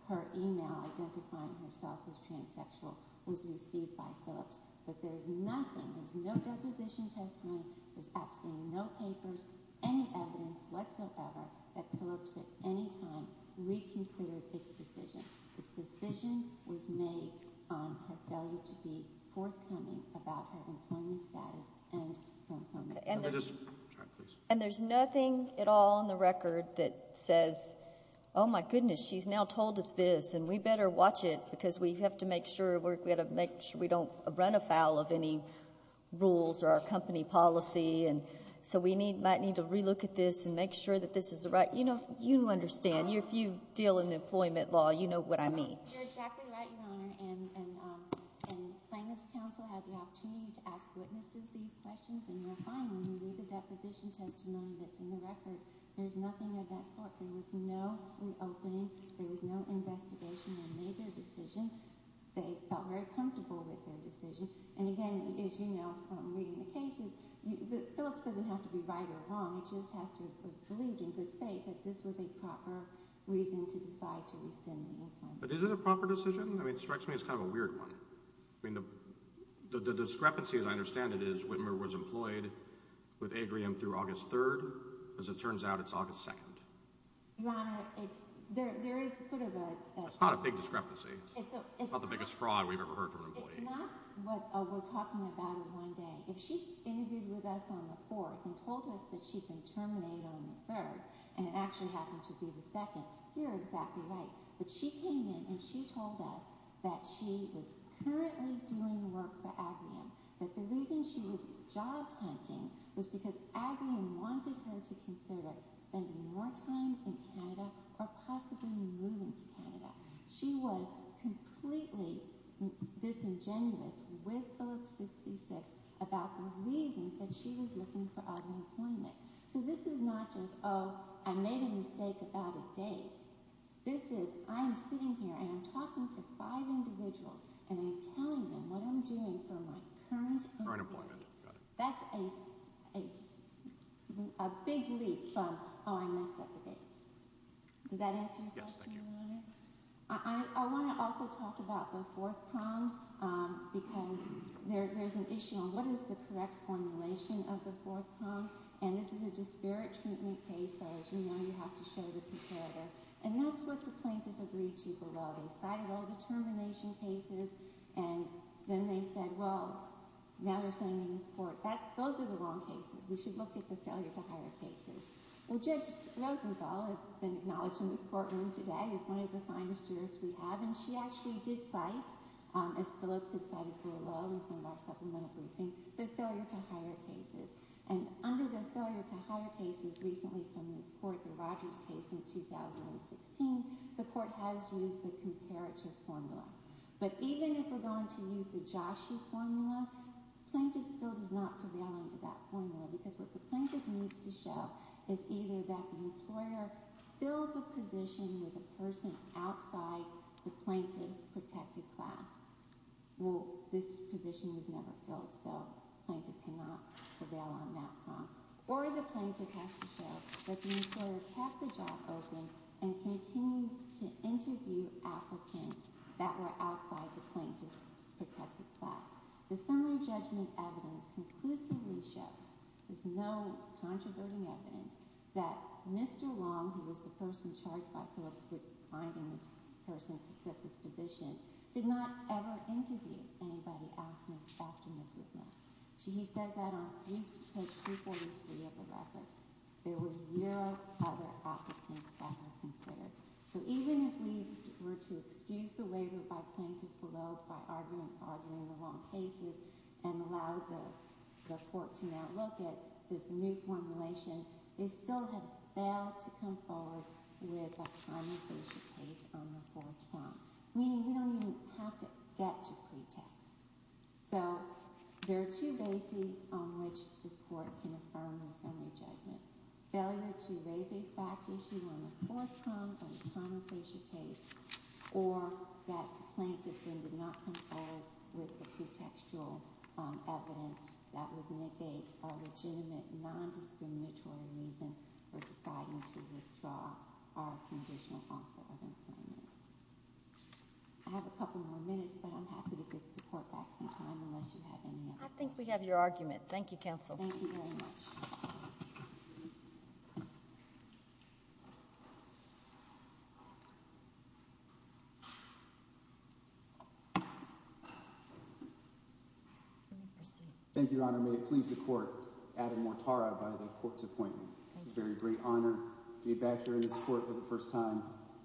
her email identifying herself as transsexual was received by her. But there's nothing, there's no reposition has been, there's absolutely no paper, any evidence whatsoever, that proves that any time we can prove this decision. The decision was made on her failure to be forthcoming about her employment status and employment. And there's nothing at all in the record that says, oh my goodness, she's now told us this, and we better watch it because we have to make sure we don't run afoul of any rules or our company policy, and so we might need to re-look at this and make sure that this is the right, you know, you understand. If you deal in employment law, you know what I mean. You're exactly right, Your Honor, and the Feminist Council has the opportunity to ask witnesses these questions, and they're fine when we look at that position testimony, but in the record, there's nothing of that sort. There was no reopening. There was no investigation. They made their decision. They felt very comfortable with their decision. And again, as you know from reading the statement, Phyllis doesn't have to be right or wrong. She just has to have the religion to say that this was a proper reason to decide to extend employment. But is it a proper decision? I mean, it strikes me as kind of a weird one. I mean, the discrepancy, as I understand it, is Whitmer was employed with Agrium through August 3rd. As it turns out, it's August 2nd. Your Honor, there is sort of a— It's not a big discrepancy. It's not the biggest fraud we've ever heard from an employee. It's not what we're talking about in one day. If she's agreed with us on the 4th and told us that she can terminate on the 3rd and it actually happens to be the 2nd, you're exactly right. But she came in and she told us that she was currently doing work for Agrium. That the reason she was job hunting was because Agrium wanted her to consider spending more time in Canada or possibly moving to Canada. She was completely disingenuous with those specifics about the reason that she was looking for unemployment. So this is not just, oh, I made a mistake about a date. This is, I'm sitting here and I'm talking to five individuals and I'm telling them what I'm doing for my current employment. That's a big leap from all I know about the date. Does that answer your question, Your Honor? Yes, ma'am. I want to also talk about the 4th crime because there's an issue on what is the correct formulation of the 4th crime. And this is a disparate treatment case, so as you know, you have to show it to each other. And that's what the plaintiffs agreed to below. They cited all the termination cases and then they said, well, now we're sending them to court. Those are the wrong cases. We should look at the failure to hire cases. And Judge Rosenthal has been acknowledging the courtroom today as one of the finest jurors we have, and she actually did cite, as Phyllis has cited below, and some of us are familiar with this, the failure to hire cases. And under the failure to hire cases recently submitted for the Rodgers case in 2016, the court has used the comparative formula. But even if we're going to use the Joshua formula, plaintiff still does not belong to that formula because what the plaintiff needs to show is either that the employer fills the position of the person outside the plaintiff's protected file. Well, this position was never filled, so plaintiff did not belong on that file. Or the plaintiff has to show that the employer kept the job open and continues to interview applicants that were outside the plaintiff's protected file. The summary judgment evidence conclusively shows, with no controversy evidence, that Mr. Long, who was the person charged by Phyllis in this position, did not ever interview anybody outside the plaintiff's position. So he says that on page 233 of the record, there were zero public office claims that were considered. So even if we were to excuse the waiver by plaintiff's parole for arguments arguing the wrong cases, then a lot of the reports we now look at, this new formulation, they still have failed to come forward with a primary case case on the fourth term. Meaning he doesn't even have to get to pretext. So there are two bases on which the court can find the summary judgment. Failure to raise the exact issue on the fourth term of the primary case case or that the plaintiff did not come forward with the pretextual evidence that would negate a legitimate, non-discriminatory reason for deciding to withdraw our conditional counsel evidence. I have a couple more minutes, but I'm happy to give the court back some time unless you have any other questions. I think we have your argument. Thank you, counsel. Thank you very much. Thank you, Your Honor. I'm really pleased to report Adam Mortara by the court's appointment. It's a very great honor to be back here in this court for the first time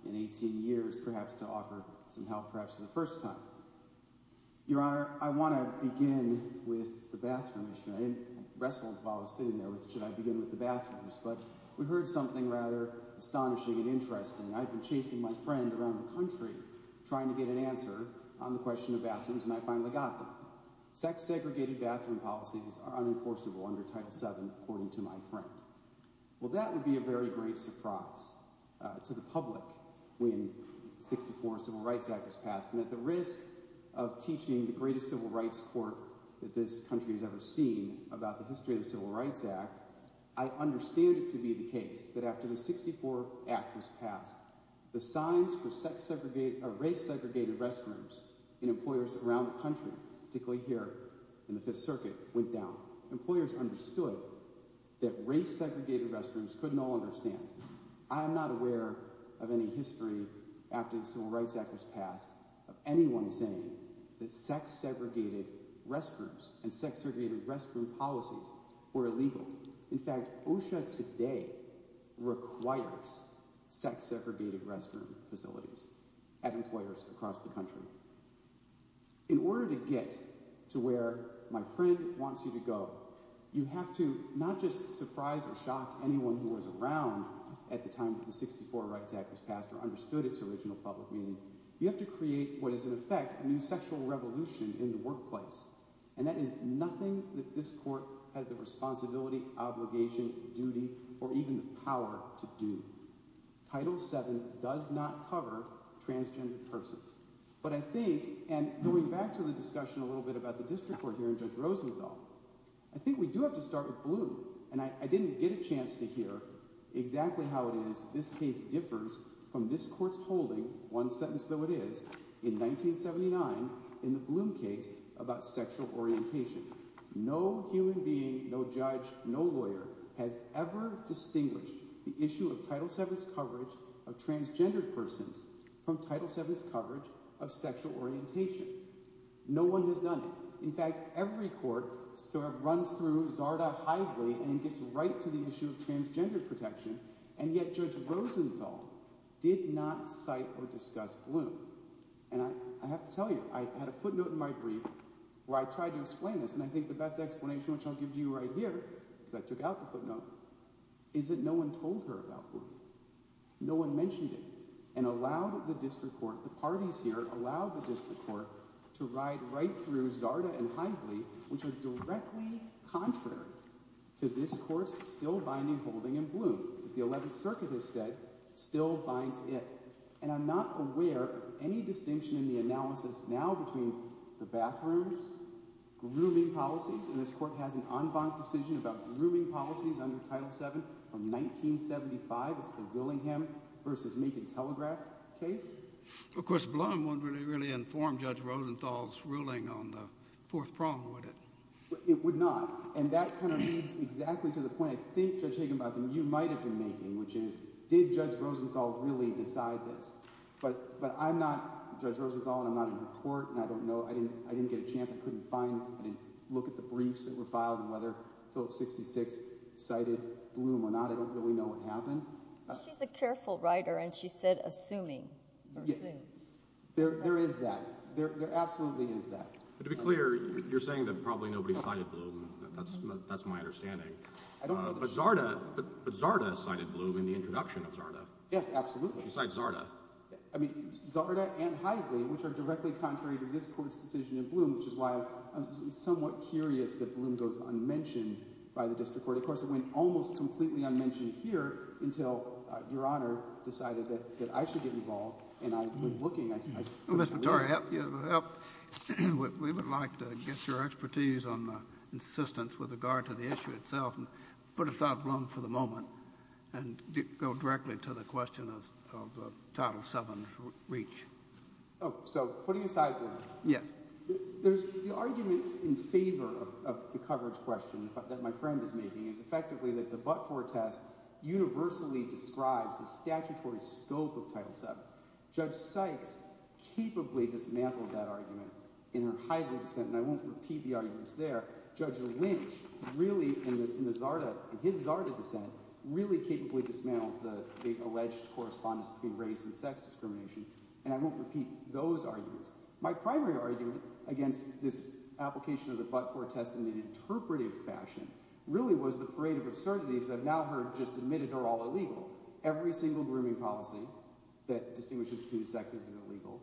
in 18 years, perhaps to offer some help perhaps for the first time. Your Honor, I want to begin with the bathroom. I didn't wrestle with it while I was sitting there. Should I begin with the bathrooms? But we heard something rather astonishing and interesting. I've been chasing my friend around the country trying to get an answer on the question of bathrooms, and I finally got one. Sex-segregated bathroom policies are unenforceable under Title VII, according to my friend. Well, that would be a very great surprise to the public when the 64 Civil Rights Act was passed. And at the risk of teaching the greatest civil rights court that this country has ever seen about the history of the Civil Rights Act, I understand it to be the case that after the 64 Act was passed, the signs for race-segregated restrooms in employers around the country, particularly here in the Fifth Circuit, went down. Employers understood that race-segregated restrooms couldn't all understand. I am not aware of any history after the Civil Rights Act was passed of anyone saying that sex-segregated restrooms and sex-segregated restroom policies were illegal. In fact, OSHA today requires sex-segregated restroom facilities at employers across the country. In order to get to where my friend wants you to go, you have to not just surprise or shock anyone who was around at the time that the 64 Civil Rights Act was passed or understood its original public meaning, you have to create what is in effect a new sexual revolution in the workplace. And that is nothing that this court has the responsibility, obligation, duty, or even power to do. Title VII does not cover transgender persons. But I think, and going back to the discussion a little bit about the district court hearing Judge Rosenthal, I think we do have to start with Bloom. And I didn't get a chance to hear exactly how it is this case differs from this court's holding, one sentence though it is, in 1979 in the Bloom case about sexual orientation. No human being, no judge, no lawyer has ever distinguished the issue of Title VII's coverage of transgender persons from Title VII's coverage of sexual orientation. No one has done it. In fact, every court sort of runs through Garda-Hydeway and gets right to the issue of transgender protection, and yet Judge Rosenthal did not cite or discuss Bloom. And I have to tell you, I had a footnote in my brief where I tried to explain this, and I think the best explanation, which I'll give you right here, because I took out the footnote, is that no one told her about Bloom. No one mentioned it. And allowed the district court, the parties here allowed the district court to ride right through Garda-Hydeway, which are directly contrary to this court's still-binding holding in Bloom. The 11th Circuit has said, still binds it. And I'm not aware of any distinction in the analysis now between the bathrooms, grooming policies, and this court has an en banc decision about grooming policies under Title VII from 1975, which is the Willingham v. Macon telegraph case. Of course, Bloom wouldn't really, really inform Judge Rosenthal's ruling on the Fourth Prong, would it? It would not. And that kind of leads exactly to the point I think, Judge Higginbotham, you might have been making, which is, did Judge Rosenthal really decide this? But I'm not Judge Rosenthal, and I'm not in the court, and I don't know. I didn't get a chance. I couldn't find it. I didn't look at the briefs that were filed and whether Philip 66 cited Bloom or not. I don't really know what happened. She's a careful writer, and she said assuming. There is that. There absolutely is that. To be clear, you're saying that probably nobody cited Bloom. That's my understanding. But Zarda cited Bloom in the introduction of Zarda. Yes, absolutely. She cited Zarda. I mean, Zarda and Heisley, which are directly contrary to this court's decision in Bloom, which is why I'm somewhat curious that Bloom goes unmentioned by the district court. Of course, it went almost completely unmentioned here until Your Honor decided that I should get involved, and I've been looking at this. Well, Mr. Torey, we would like to get your expertise on the insistence with regard to the issue itself. Put aside Bloom for the moment and go directly to the question of Title VII's reach. Oh, so putting it that way. Yes. The argument in favor of the coverage question that my friend is making is effectively that the Butford test universally describes the statutory scope of Title VII. Judge Sykes capably dismantled that argument in the Heisley dissent, and I won't repeat the arguments there. Judge Lynch really, in his Zarda dissent, really capably dismantled the alleged correspondence between race and sex discrimination, and I won't repeat those arguments. My primary argument against this application of the Butford test in an interpretive fashion really was the parade of absurdities that now have just admitted are all illegal. Every single grooming policy that distinguishes two sexes is illegal.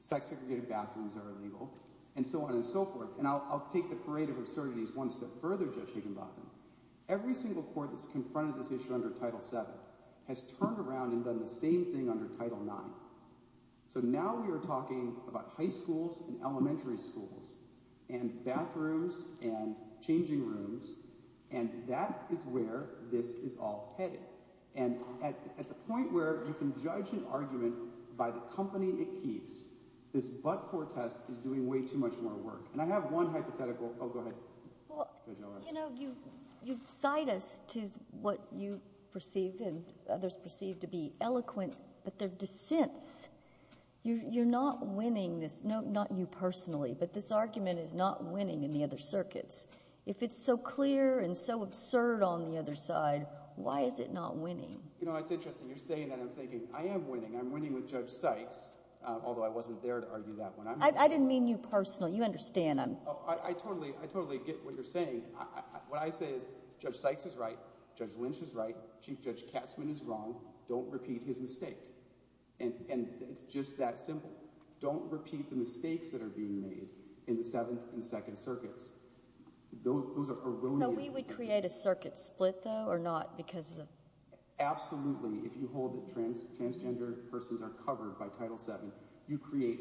Sex-segregated bathrooms are illegal, and so on and so forth. And I'll take the parade of absurdities one step further, Judge Judenbach. Every single court that's confronted this issue under Title VII has turned around and done the same thing under Title IX. So now we are talking about high schools and elementary schools and bathrooms and changing rooms, and that is where this is all headed. And at the point where you can judge an argument by the company it keeps, this Butford test is doing way too much more work. And I have one hypothetical—oh, go ahead. Well, you know, you cite us to what you perceive and others perceive to be eloquent, but they're dissents. You're not winning this—not you personally, but this argument is not winning in the other circuits. If it's so clear and so absurd on the other side, why is it not winning? You know, it's interesting. You're saying that and I'm thinking, I am winning. I'm winning with Judge Sykes. Although I wasn't there to argue that one. I didn't mean you personally. You understand. I totally get what you're saying. What I said is, Judge Sykes is right, Judge Lynch is right, Chief Judge Katzmann is wrong. Don't repeat his mistakes. And just that simple. Don't repeat the mistakes that are being made in the Seventh and Second Circuits. Those are erroneous— So we would create a circuit split, though, or not? Absolutely. If you hold that transgender persons are covered by Title VII, you create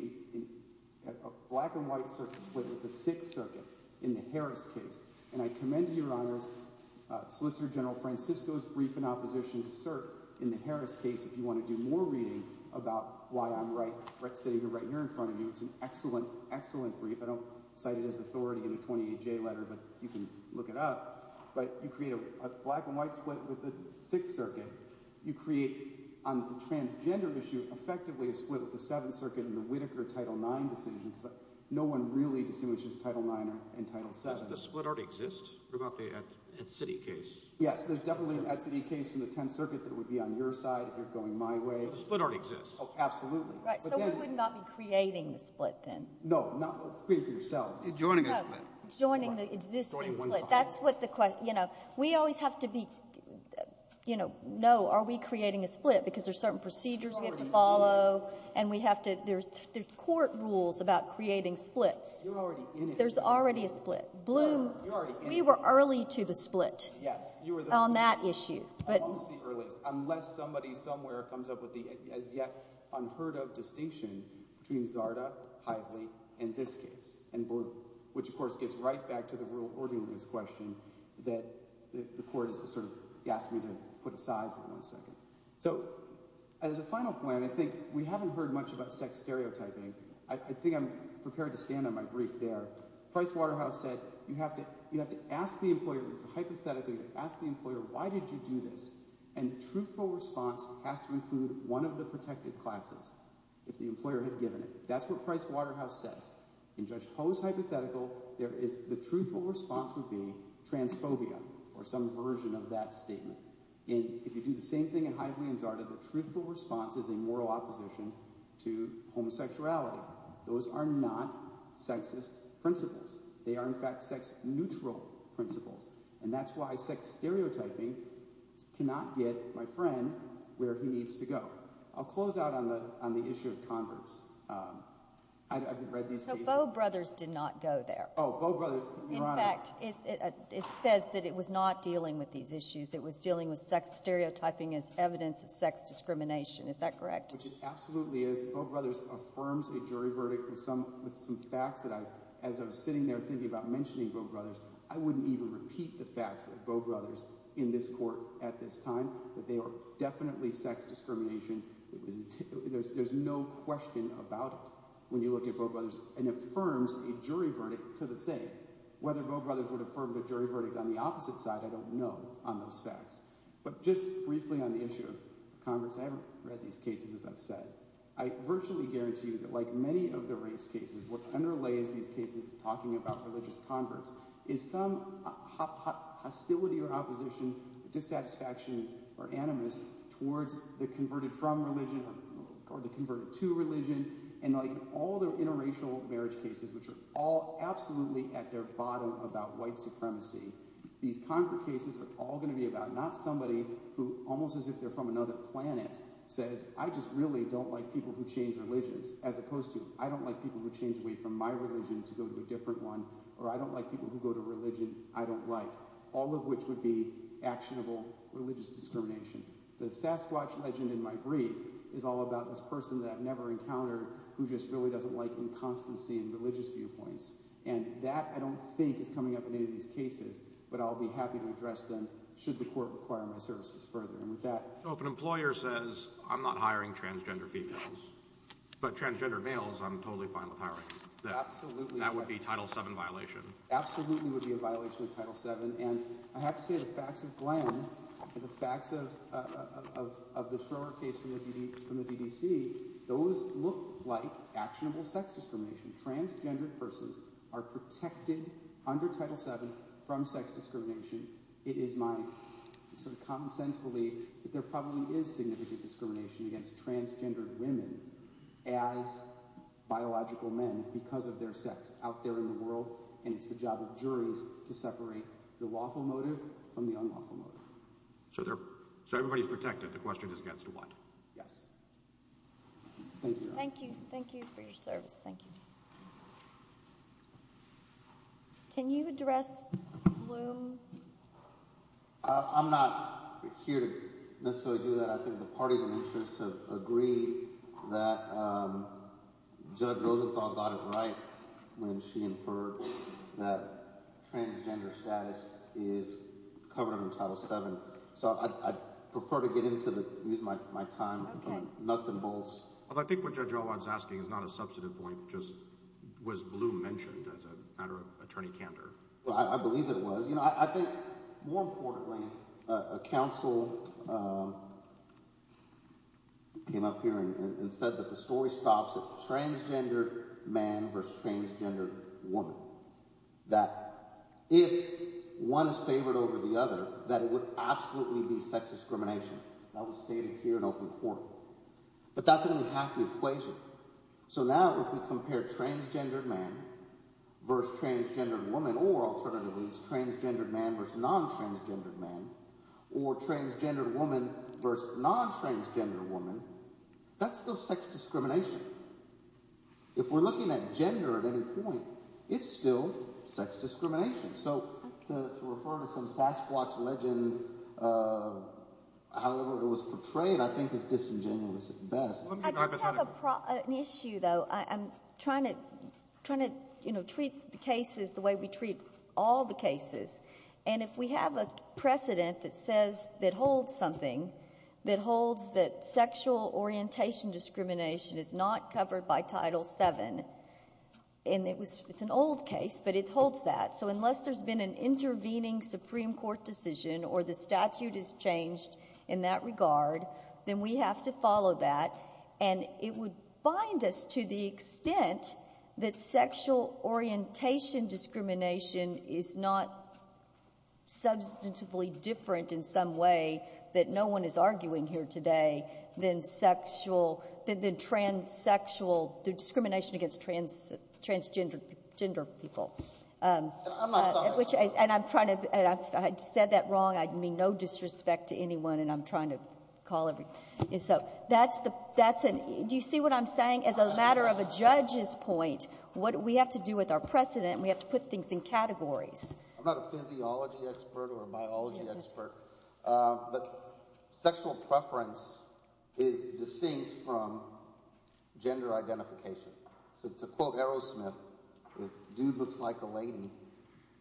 a black-and-white circuit split with the Sixth Circuit in the Harris case. And I commend to you, Your Honor, Solicitor General Francisco's brief in opposition to cert in the Harris case. If you want to do more reading about why I'm right here in front of you, it's an excellent, excellent brief. I don't cite it as authority in the 28J letter, but you can look it up. But you create a black-and-white split with the Sixth Circuit. You create, on the transgender issue, effectively a split with the Seventh Circuit and the Whitaker Title IX decisions, but no one really distinguishes Title IX and Title VII. Does the split already exist? In the city case. Yes, there's definitely an equity case in the Tenth Circuit that would be on your side if you're going my way. So the split already exists? Absolutely. Right, so we would not be creating a split, then? No, not creating it yourself. Joining the existing split. We always have to be, you know, know, are we creating a split, because there's certain procedures we have to follow, and we have to, there's court rules about creating splits. There's already a split. Bloom, we were early to the split on that issue. Unless somebody somewhere comes up with a yet-unheard-of distinction between Zarda, Heisley, and this case, which, of course, gets right back to the real ordeal of this question that the court has sort of got to put aside for a second. So as a final plan, I think we haven't heard much about sex stereotyping. I think I'm prepared to stand on my brief there. Price Waterhouse said you have to ask the employer hypothetically, ask the employer why did you do this, and the truthful response has to include one of the protected factors that the employer has given it. That's what Price Waterhouse said. In Judge Koh's hypothetical, the truthful response would be transphobia, or some version of that statement. If you do the same thing in Heisley and Zarda, the truthful response is a moral opposition to homosexuality. Those are not sexist principles. They are, in fact, sex-neutral principles, and that's why sex stereotyping cannot get my friend where he needs to go. I'll close out on the issue of Congress. I haven't read these cases. So Bowe Brothers did not go there. Oh, Bowe Brothers. In fact, it says that it was not dealing with these issues. It was dealing with sex stereotyping as evidence of sex discrimination. Is that correct? Which it absolutely is. Bowe Brothers affirms the jury verdict with some facts that as I was sitting there thinking about mentioning Bowe Brothers, I wouldn't even repeat the facts of Bowe Brothers in this court at this time. They are definitely sex discrimination. There's no question about it when you look at Bowe Brothers, and it affirms a jury verdict to the same. Whether Bowe Brothers would affirm the jury verdict on the opposite side, I don't know on those facts. But just briefly on the issue of Congress, I haven't read these cases, as I've said. I virtually guarantee you that like many of the race cases, what underlays these cases talking about religious converts is some hostility or opposition, dissatisfaction or animus towards the converted from religion or the converted to religion. And like all the interracial marriage cases, which are all absolutely at their bottom about white supremacy, these kinds of cases are all going to be about not somebody who, almost as if they're from another planet, says I just really don't like people who change religions, as opposed to I don't like people who change away from my religion to go to a different one, or I don't like people who go to religions I don't like, all of which would be actionable religious discrimination. The Sasquatch legend in my brief is all about this person that I've never encountered who just really doesn't like inconstancy in religious viewpoints. And that, I don't think, is coming up in any of these cases. But I'll be happy to address them should the court require my services further. If an employer says, I'm not hiring transgender females, but transgender males I'm totally fine with hiring them, that would be a Title VII violation. Absolutely would be a violation of Title VII. And I have to say the facts of Glenn, the facts of the Schroer case from the BBC, those look like actionable sex discrimination. Transgender persons are protected under Title VII from sex discrimination. It is my sort of common sense belief that there probably is significant discrimination against transgender women as biological men because of their sex out there in the world, and it's the job of juries to separate the lawful motive from the unlawful motive. So everybody's protected. The question is against what? Thank you. Thank you. Thank you for your service. Thank you. Can you address Bloom? I'm not here to necessarily do that. I think the parties in the interest have agreed that Judge Rosenthal got it right when she inferred that transgender status is covered under Title VII. So I prefer to get into this and use my time and nuts and bolts. Well, I think what Judge Alwine's asking is not a substantive point, it just was Bloom mentioning that as a matter of attorney-counter. Well, I believe it was. You know, I think, more importantly, a counsel came up here and said that the story stops with transgender man versus transgender woman, that if one is favored over the other, that it would absolutely be sex discrimination. That was stated here in open court. But that didn't have the equation. So now if we compare transgender man versus transgender woman, or alternatively, transgender man versus non-transgender man, or transgender woman versus non-transgender woman, that's still sex discrimination. If we're looking at gender at any point, it's still sex discrimination. So to refer to some Sasquatch legend, however it was portrayed, I think it's disingenuous at best. I just have an issue, though. I'm trying to treat the cases the way we treat all the cases. And if we have a precedent that says that holds something, that holds that sexual orientation discrimination is not covered by Title VII, and it's an old case, but it holds that. So unless there's been an intervening Supreme Court decision or the statute has changed in that regard, then we have to follow that. And it would bind us to the extent that sexual orientation discrimination is not substantively different in some way that no one is arguing here today than transsexual discrimination against transgender people. I'm not following. I said that wrong. I mean no disrespect to anyone, and I'm trying to call everybody. Do you see what I'm saying? As a matter of a judge's point, what we have to do with our precedent, we have to put things in categories. I'm not a physiology expert or a biology expert, but sexual preference is distinct from gender identification. To quote Aerosmith, if a dude looks like a lady,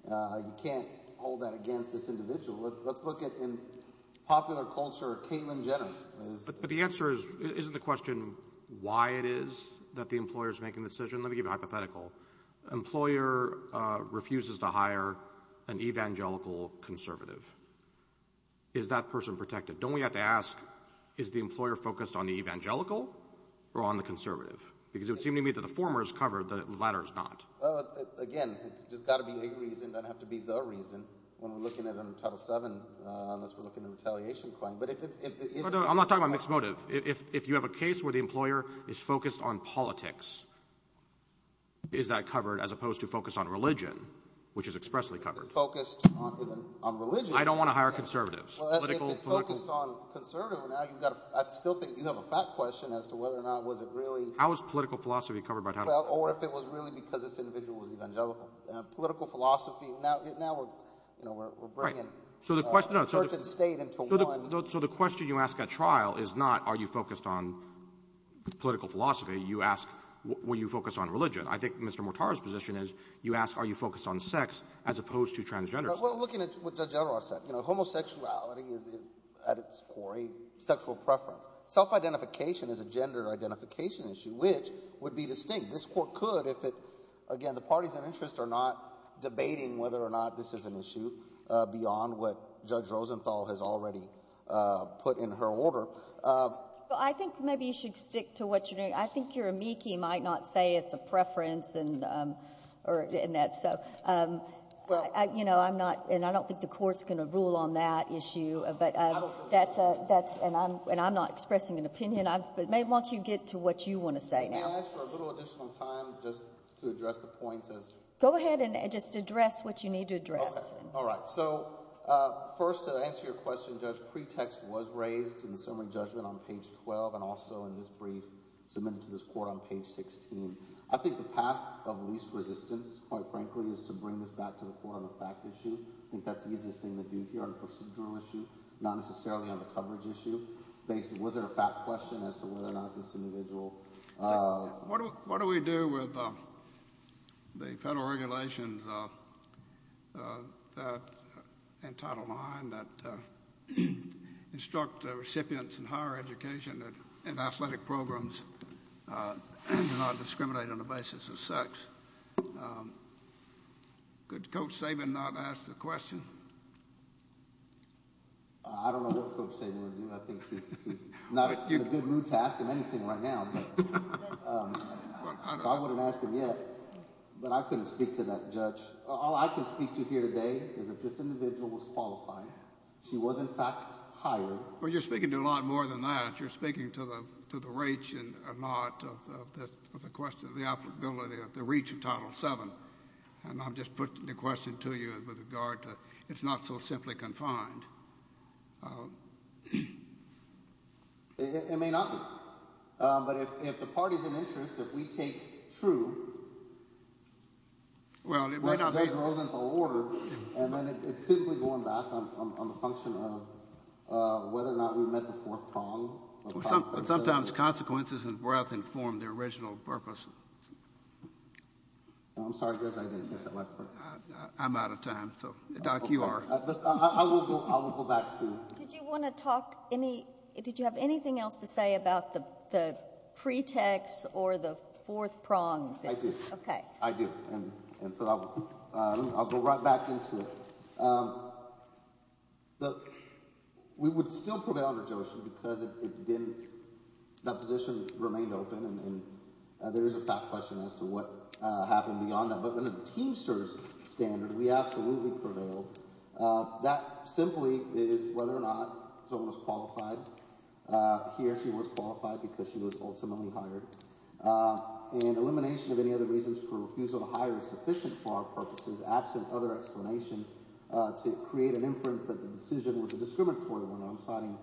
you can't hold that against this individual. Let's look at the popular culture of Caitlyn Jenner. But the answer is, isn't the question why it is that the employer is making the decision? Let me give you a hypothetical. The employer refuses to hire an evangelical conservative. Is that person protected? Don't we have to ask, is the employer focused on the evangelical or on the conservative? Because it would seem to me that the former is covered, the latter is not. Again, there's got to be a reason. It doesn't have to be the reason. When we're looking at Title VII, unless we're looking at an retaliation claim. I'm not talking about mixed motive. If you have a case where the employer is focused on politics, is that covered as opposed to focused on religion, which is expressly covered? If it's focused on religion. I don't want to hire conservatives. Well, if it's focused on conservatives, I still think you have a fact question as to whether or not was it really... How is political philosophy covered by Title VII? Or if it was really because this individual was evangelical. Political philosophy, now we're bringing church and state into one. So the question you ask at trial is not, are you focused on political philosophy? You ask, were you focused on religion? I think Mr. Mortar's position is, you ask, are you focused on sex as opposed to transgender sex? We're looking at what Judge Edwards said. Homosexuality is, at its core, a sexual preference. Self-identification is a gender identification issue, which would be distinct. This Court could, if it... Again, the parties in interest are not debating whether or not this is an issue beyond what Judge Rosenthal has already put in her order. Well, I think maybe you should stick to what you're doing. I think your amici might not say it's a preference and that. So, you know, I'm not... And I don't think the Court's going to rule on that issue. And I'm not expressing an opinion. I want you to get to what you want to say now. Can I ask for a little additional time just to address the point of... Go ahead and just address what you need to address. All right. So, first, to answer your question, Judge, a pretext was raised in a similar judgment on page 12 and also in this brief submitted to this Court on page 16. I think the path of least resistance, quite frankly, is to bring this back to the core of the fact issue. In fact, the interesting thing would be here, it's a procedural issue, not necessarily a coverage issue. And Title IX that instructs the recipients in higher education and athletic programs to not discriminate on the basis of sex. Could Coach Saban not ask the question? I don't know what Coach Saban would do. I think he's not in a good mood to ask him anything right now. I wouldn't ask him yet. But I couldn't speak to that, Judge. All I can speak to here today is that this individual was qualified. She was, in fact, hired. Well, you're speaking to a lot more than that. You're speaking to the reach and not the question of the applicability of the reach of Title VII. And I'm just putting the question to you with regard to it's not so simply confined. It may not be. But if the parties of interest, if we take true, and then it's simply going back on the function of whether or not we met the fourth prong. Sometimes consequences and breadth inform the original purpose. I'm sorry, Judge, I didn't get that last question. I'm out of time. Doc, you are. I will go back to you. Did you want to talk? Did you have anything else to say about the pretext or the fourth prong? I do. Okay. I do. And so I'll go right back into it. We would still prevail on the notion because the position remained open, and there is, in fact, a question as to what happened beyond that. But under the Teamsters standard, we absolutely prevailed. That simply is whether or not someone was qualified. He or she was qualified because she was ultimately hired. And elimination of any other reasons for refusal to hire is sufficient for our purposes, absent other explanations to create an inference that the decision was a discriminatory one. I'm talking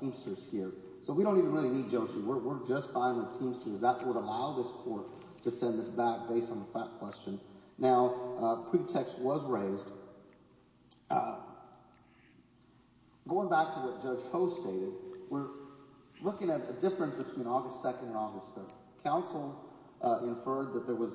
Teamsters here. So we don't even really need Josie. We're just fine with Teamsters. That would allow this court to send us back based on that question. Now, pretext was raised. Going back to the post-date, we're looking at a difference between August 2nd and August 3rd. Counsel inferred that they were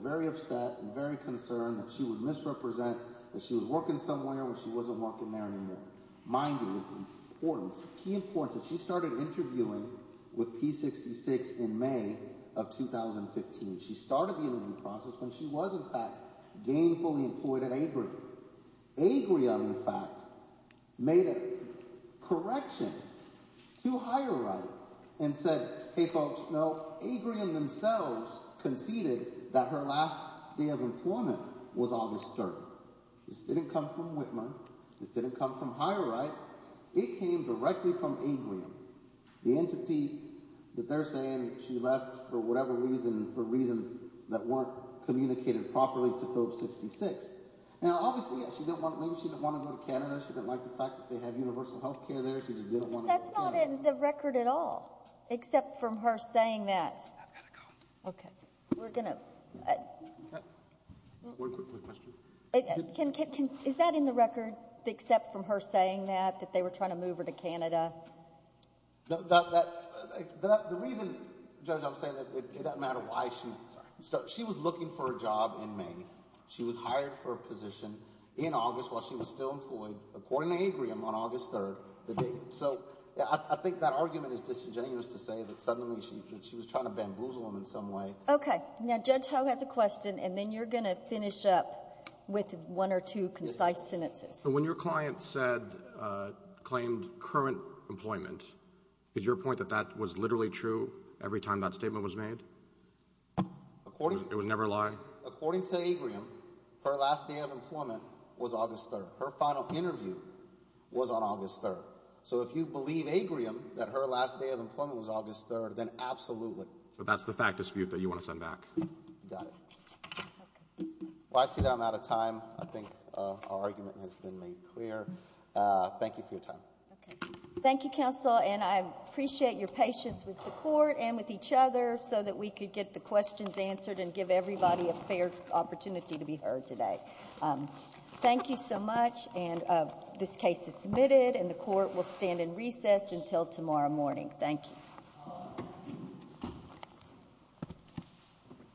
very upset and very concerned that she was misrepresent, that she was working somewhere and she wasn't working there anymore. Mind you, it's important, key important, that she started interviewing with P66 in May of 2015. She started the interview process when she was, in fact, gainfully employed at ABRAM. ABRAM, in fact, made a correction to HireRite and said, Hey folks, you know, ABRAM themselves competed that her last year of employment was August 3rd. This didn't come from Whitman. This didn't come from HireRite. It came directly from ABRAM. The entity that they're saying she left for whatever reason, for reasons that weren't communicated properly to Code 66. Now, obviously, maybe she didn't want to go to Canada. She didn't like the fact that they had universal health care there. She didn't want to go to Canada. But that's not in the record at all, except from her saying that. I've got a copy. Okay. We're going to… Okay. We'll work with her. Is that in the record, except from her saying that, that they were trying to move her to Canada? The reason, Judge, I'm saying that, it doesn't matter why she… She was looking for a job in May. She was hired for a position in August while she was still employed, according to ABRAM, on August 3rd. So, I think that argument is disingenuous to say that suddenly she was trying to bamboozle them in some way. Okay. Now, Judge, I'll have the question, and then you're going to finish up with one or two concise sentences. So, when your client said, claimed current employment, is your point that that was literally true every time that statement was made? It would never lie? According to ABRAM, her last day of employment was August 3rd. Her final interview was on August 3rd. So, if you believe ABRAM that her last day of employment was August 3rd, then absolutely. But that's the fact dispute that you want to send back. Got it. Well, actually, I'm out of time. I think our argument has been made clear. Thank you for your time. Okay. Thank you, counsel, and I appreciate your patience with the court and with each other so that we could get the questions answered and give everybody a fair opportunity to be heard today. Thank you so much, and this case is submitted, and the court will stand in recess until tomorrow morning. Thank you.